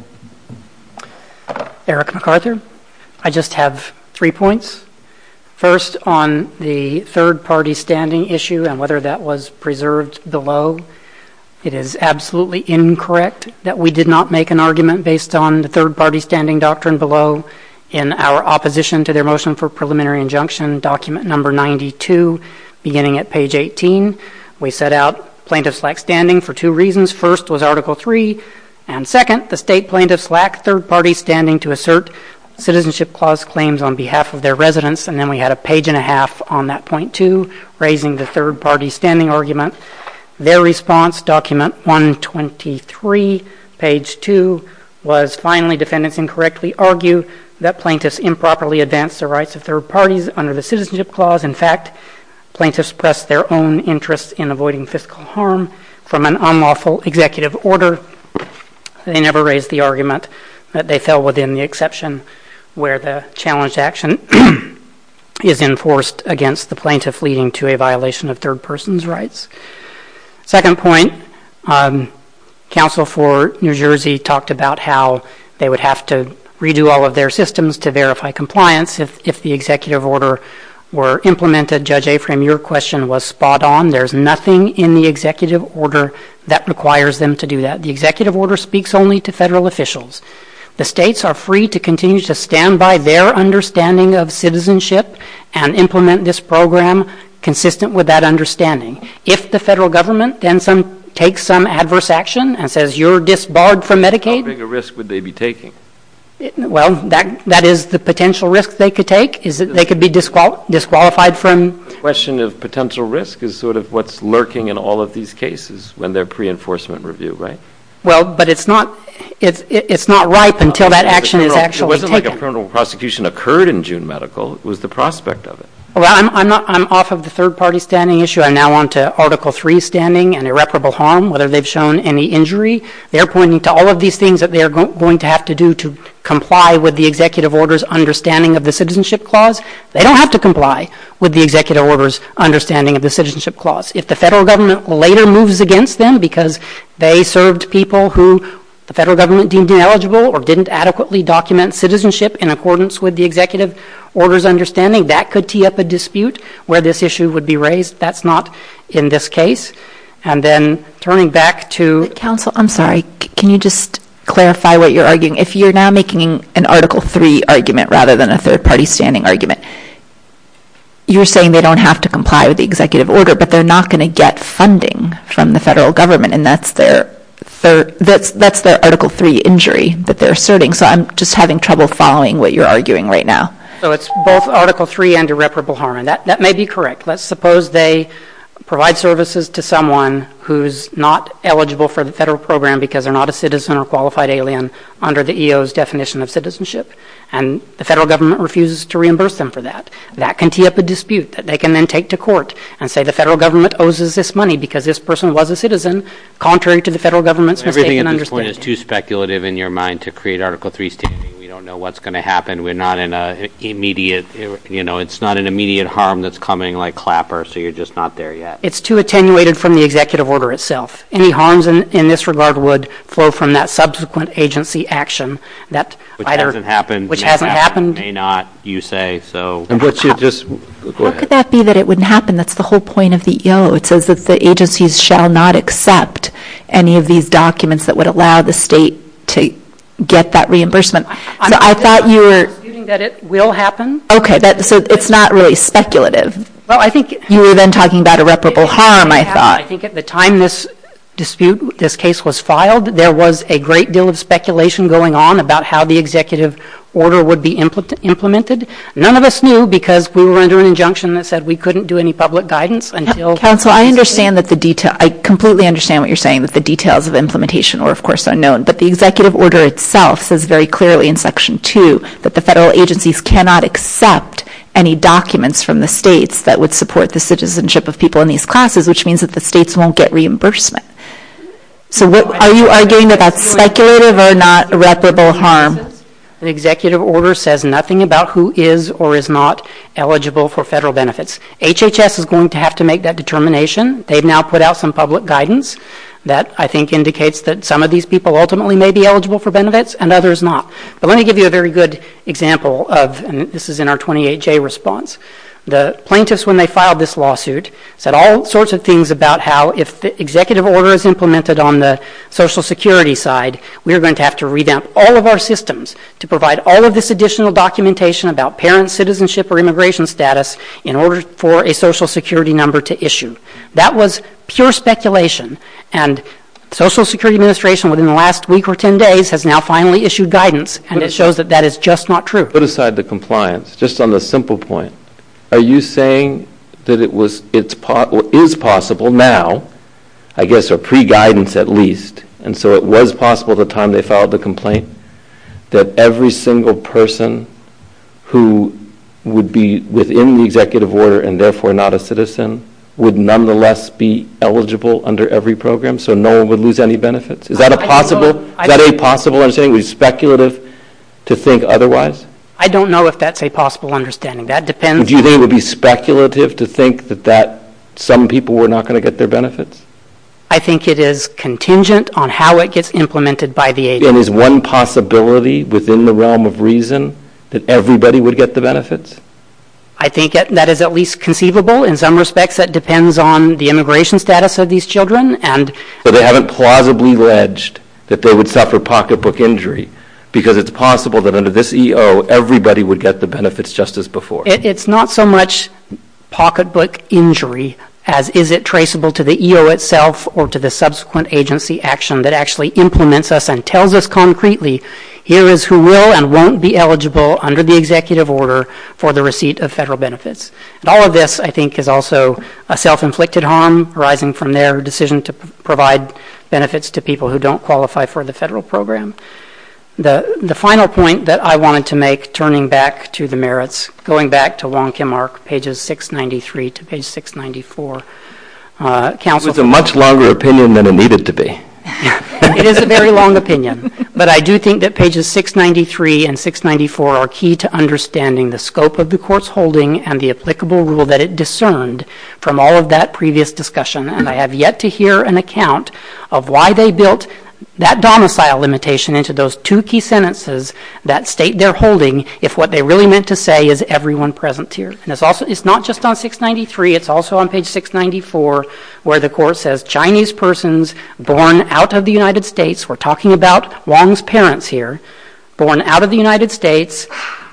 Eric McArthur. I just have three points. First, on the third-party standing issue and whether that was preserved below, it is absolutely incorrect that we did not make an argument based on the third-party standing doctrine below in our opposition to their motion for preliminary injunction, document number 92, beginning at page 18. We set out plaintiff's lax standing for two reasons. First was Article III, and second, the state plaintiff's lax third-party standing to assert citizenship clause claims on behalf of their residents, and then we had a page and a half on that point, too, raising the third-party standing argument. Their response, document 123, page 2, was finally defendants incorrectly argue that plaintiffs improperly advanced the rights of third parties under the citizenship clause. In fact, plaintiffs pressed their own interests in avoiding fiscal harm from an unlawful executive order. They never raised the argument that they fell within the exception where the challenge to action is enforced against the plaintiff leading to a violation of third person's rights. Second point, counsel for New Jersey talked about how they would have to redo all of their systems to verify compliance if the executive order were implemented. Judge Aprem, your question was spot on. Again, there's nothing in the executive order that requires them to do that. The executive order speaks only to federal officials. The states are free to continue to stand by their understanding of citizenship and implement this program consistent with that understanding. If the federal government then takes some adverse action and says, you're disbarred from Medicaid... What risk would they be taking? Well, that is the potential risk they could take is that they could be disqualified from... The question of potential risk is sort of what's lurking in all of these cases when they're pre-enforcement review, right? Well, but it's not right until that action is actually taken. It wasn't like a criminal prosecution occurred in June medical. It was the prospect of it. Well, I'm off of the third party standing issue. I'm now on to Article 3 standing and irreparable harm, whether they've shown any injury. They're pointing to all of these things that they're going to have to do to comply with the executive order's understanding of the citizenship clause. They don't have to comply with the executive order's understanding of the citizenship clause. If the federal government later moves against them because they served people who the federal government deemed ineligible or didn't adequately document citizenship in accordance with the executive order's understanding, that could tee up a dispute where this issue would be raised. That's not in this case. And then turning back to... Counsel, I'm sorry. Can you just clarify what you're arguing? If you're now making an Article 3 argument rather than a third party standing argument, you're saying they don't have to comply with the executive order but they're not going to get funding from the federal government, and that's their Article 3 injury that they're asserting. So I'm just having trouble following what you're arguing right now. So it's both Article 3 and irreparable harm. That may be correct. Let's suppose they provide services to someone who's not eligible for the federal program because they're not a citizen or qualified alien under the EO's definition of citizenship, and the federal government refuses to reimburse them for that. That can tee up a dispute that they can then take to court and say the federal government owes us this money because this person was a citizen contrary to the federal government's understanding. Everything at this point is too speculative in your mind to create Article 3 standing. We don't know what's going to happen. We're not in an immediate, you know, it's not an immediate harm that's coming like clapper, so you're just not there yet. It's too attenuated from the executive order itself. Any harms in this regard would flow from that subsequent agency action. Which hasn't happened. Which hasn't happened. May not, you say, so. How could that be that it wouldn't happen? That's the whole point of the EO. It says that the agencies shall not accept any of these documents that would allow the state to get that reimbursement. I thought you were. I'm assuming that it will happen. Okay, so it's not really speculative. Well, I think. You were then talking about irreparable harm, I thought. I think at the time this dispute, this case was filed, there was a great deal of speculation going on about how the executive order would be implemented. None of us knew because we were under an injunction that said we couldn't do any public guidance until. Counsel, I understand that the detail. I completely understand what you're saying with the details of implementation or, of course, unknown. But the executive order itself says very clearly in Section 2 that the federal agencies cannot accept any documents from the states that would support the citizenship of people in these classes, which means that the states won't get reimbursement. So are you arguing about speculative or not irreparable harm? The executive order says nothing about who is or is not eligible for federal benefits. HHS is going to have to make that determination. They've now put out some public guidance that I think indicates that some of these people ultimately may be eligible for benefits and others not. But let me give you a very good example of, and this is in our 28-J response. The plaintiffs, when they filed this lawsuit, said all sorts of things about how if the executive order is implemented on the Social Security side, we are going to have to revamp all of our systems to provide all of this additional documentation about parent citizenship or immigration status in order for a Social Security number to issue. That was pure speculation, and the Social Security Administration, within the last week or 10 days, has now finally issued guidance, and it shows that that is just not true. Let's put aside the compliance, just on a simple point. Are you saying that it is possible now, I guess, or pre-guidance at least, and so it was possible at the time they filed the complaint, that every single person who would be within the executive order and therefore not a citizen would nonetheless be eligible under every program so no one would lose any benefits? Is that a possible understanding? Is it speculative to think otherwise? I don't know if that's a possible understanding. Would you think it would be speculative to think that some people were not going to get their benefits? I think it is contingent on how it gets implemented by the agency. Is one possibility within the realm of reason that everybody would get the benefits? I think that is at least conceivable. In some respects, that depends on the immigration status of these children. They haven't plausibly alleged that they would suffer pocketbook injury because it is possible that under this EO, everybody would get the benefits just as before. It is not so much pocketbook injury as is it traceable to the EO itself or to the subsequent agency action that actually implements us and tells us concretely here is who will and won't be eligible under the executive order for the receipt of federal benefits. All of this, I think, is also a self-inflicted harm arising from their decision to provide benefits to people who don't qualify for the federal program. The final point that I wanted to make, turning back to the merits, going back to Longkin Mark, pages 693 to page 694. It's a much longer opinion than it needed to be. It is a very long opinion, but I do think that pages 693 and 694 are key to understanding the scope of the courseholding and the applicable rule that it discerned from all of that previous discussion. I have yet to hear an account of why they built that domicile limitation into those two key sentences that state they're holding if what they really meant to say is everyone present here. It's not just on 693, it's also on page 694 where the course says, Chinese persons born out of the United States, we're talking about Long's parents here, born out of the United States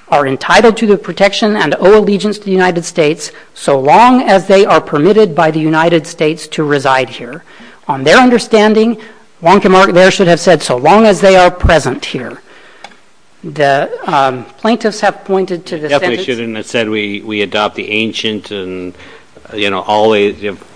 are entitled to the protection and allegiance to the United States so long as they are permitted by the United States to reside here. On their understanding, Longkin Mark there should have said so long as they are present here. The plaintiffs have pointed to the sentence. Definitely shouldn't have said we adopt the ancient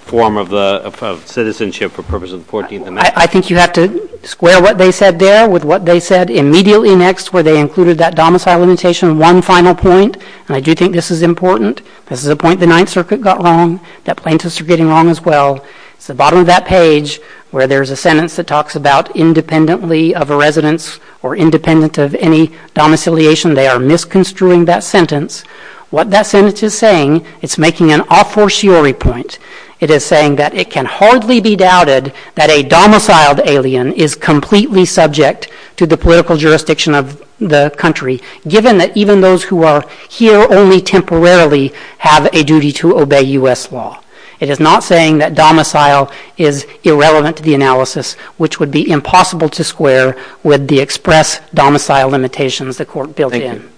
form of citizenship for purposes of the 14th Amendment. I think you have to square what they said there with what they said immediately next where they included that domicile limitation one final point, and I do think this is important. This is the point the Ninth Circuit got wrong, that plaintiffs are getting wrong as well. It's the bottom of that page where there's a sentence that talks about independently of a residence or independent of any domiciliation. They are misconstruing that sentence. What that sentence is saying, it's making an a fortiori point. It is saying that it can hardly be doubted that a domiciled alien is completely subject to the political jurisdiction of the country given that even those who are here only temporarily have a duty to obey U.S. law. It is not saying that domicile is irrelevant to the analysis which would be impossible to square with the express domicile limitations the court built in.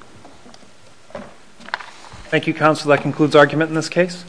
Thank you, counsel. That concludes argument in this case.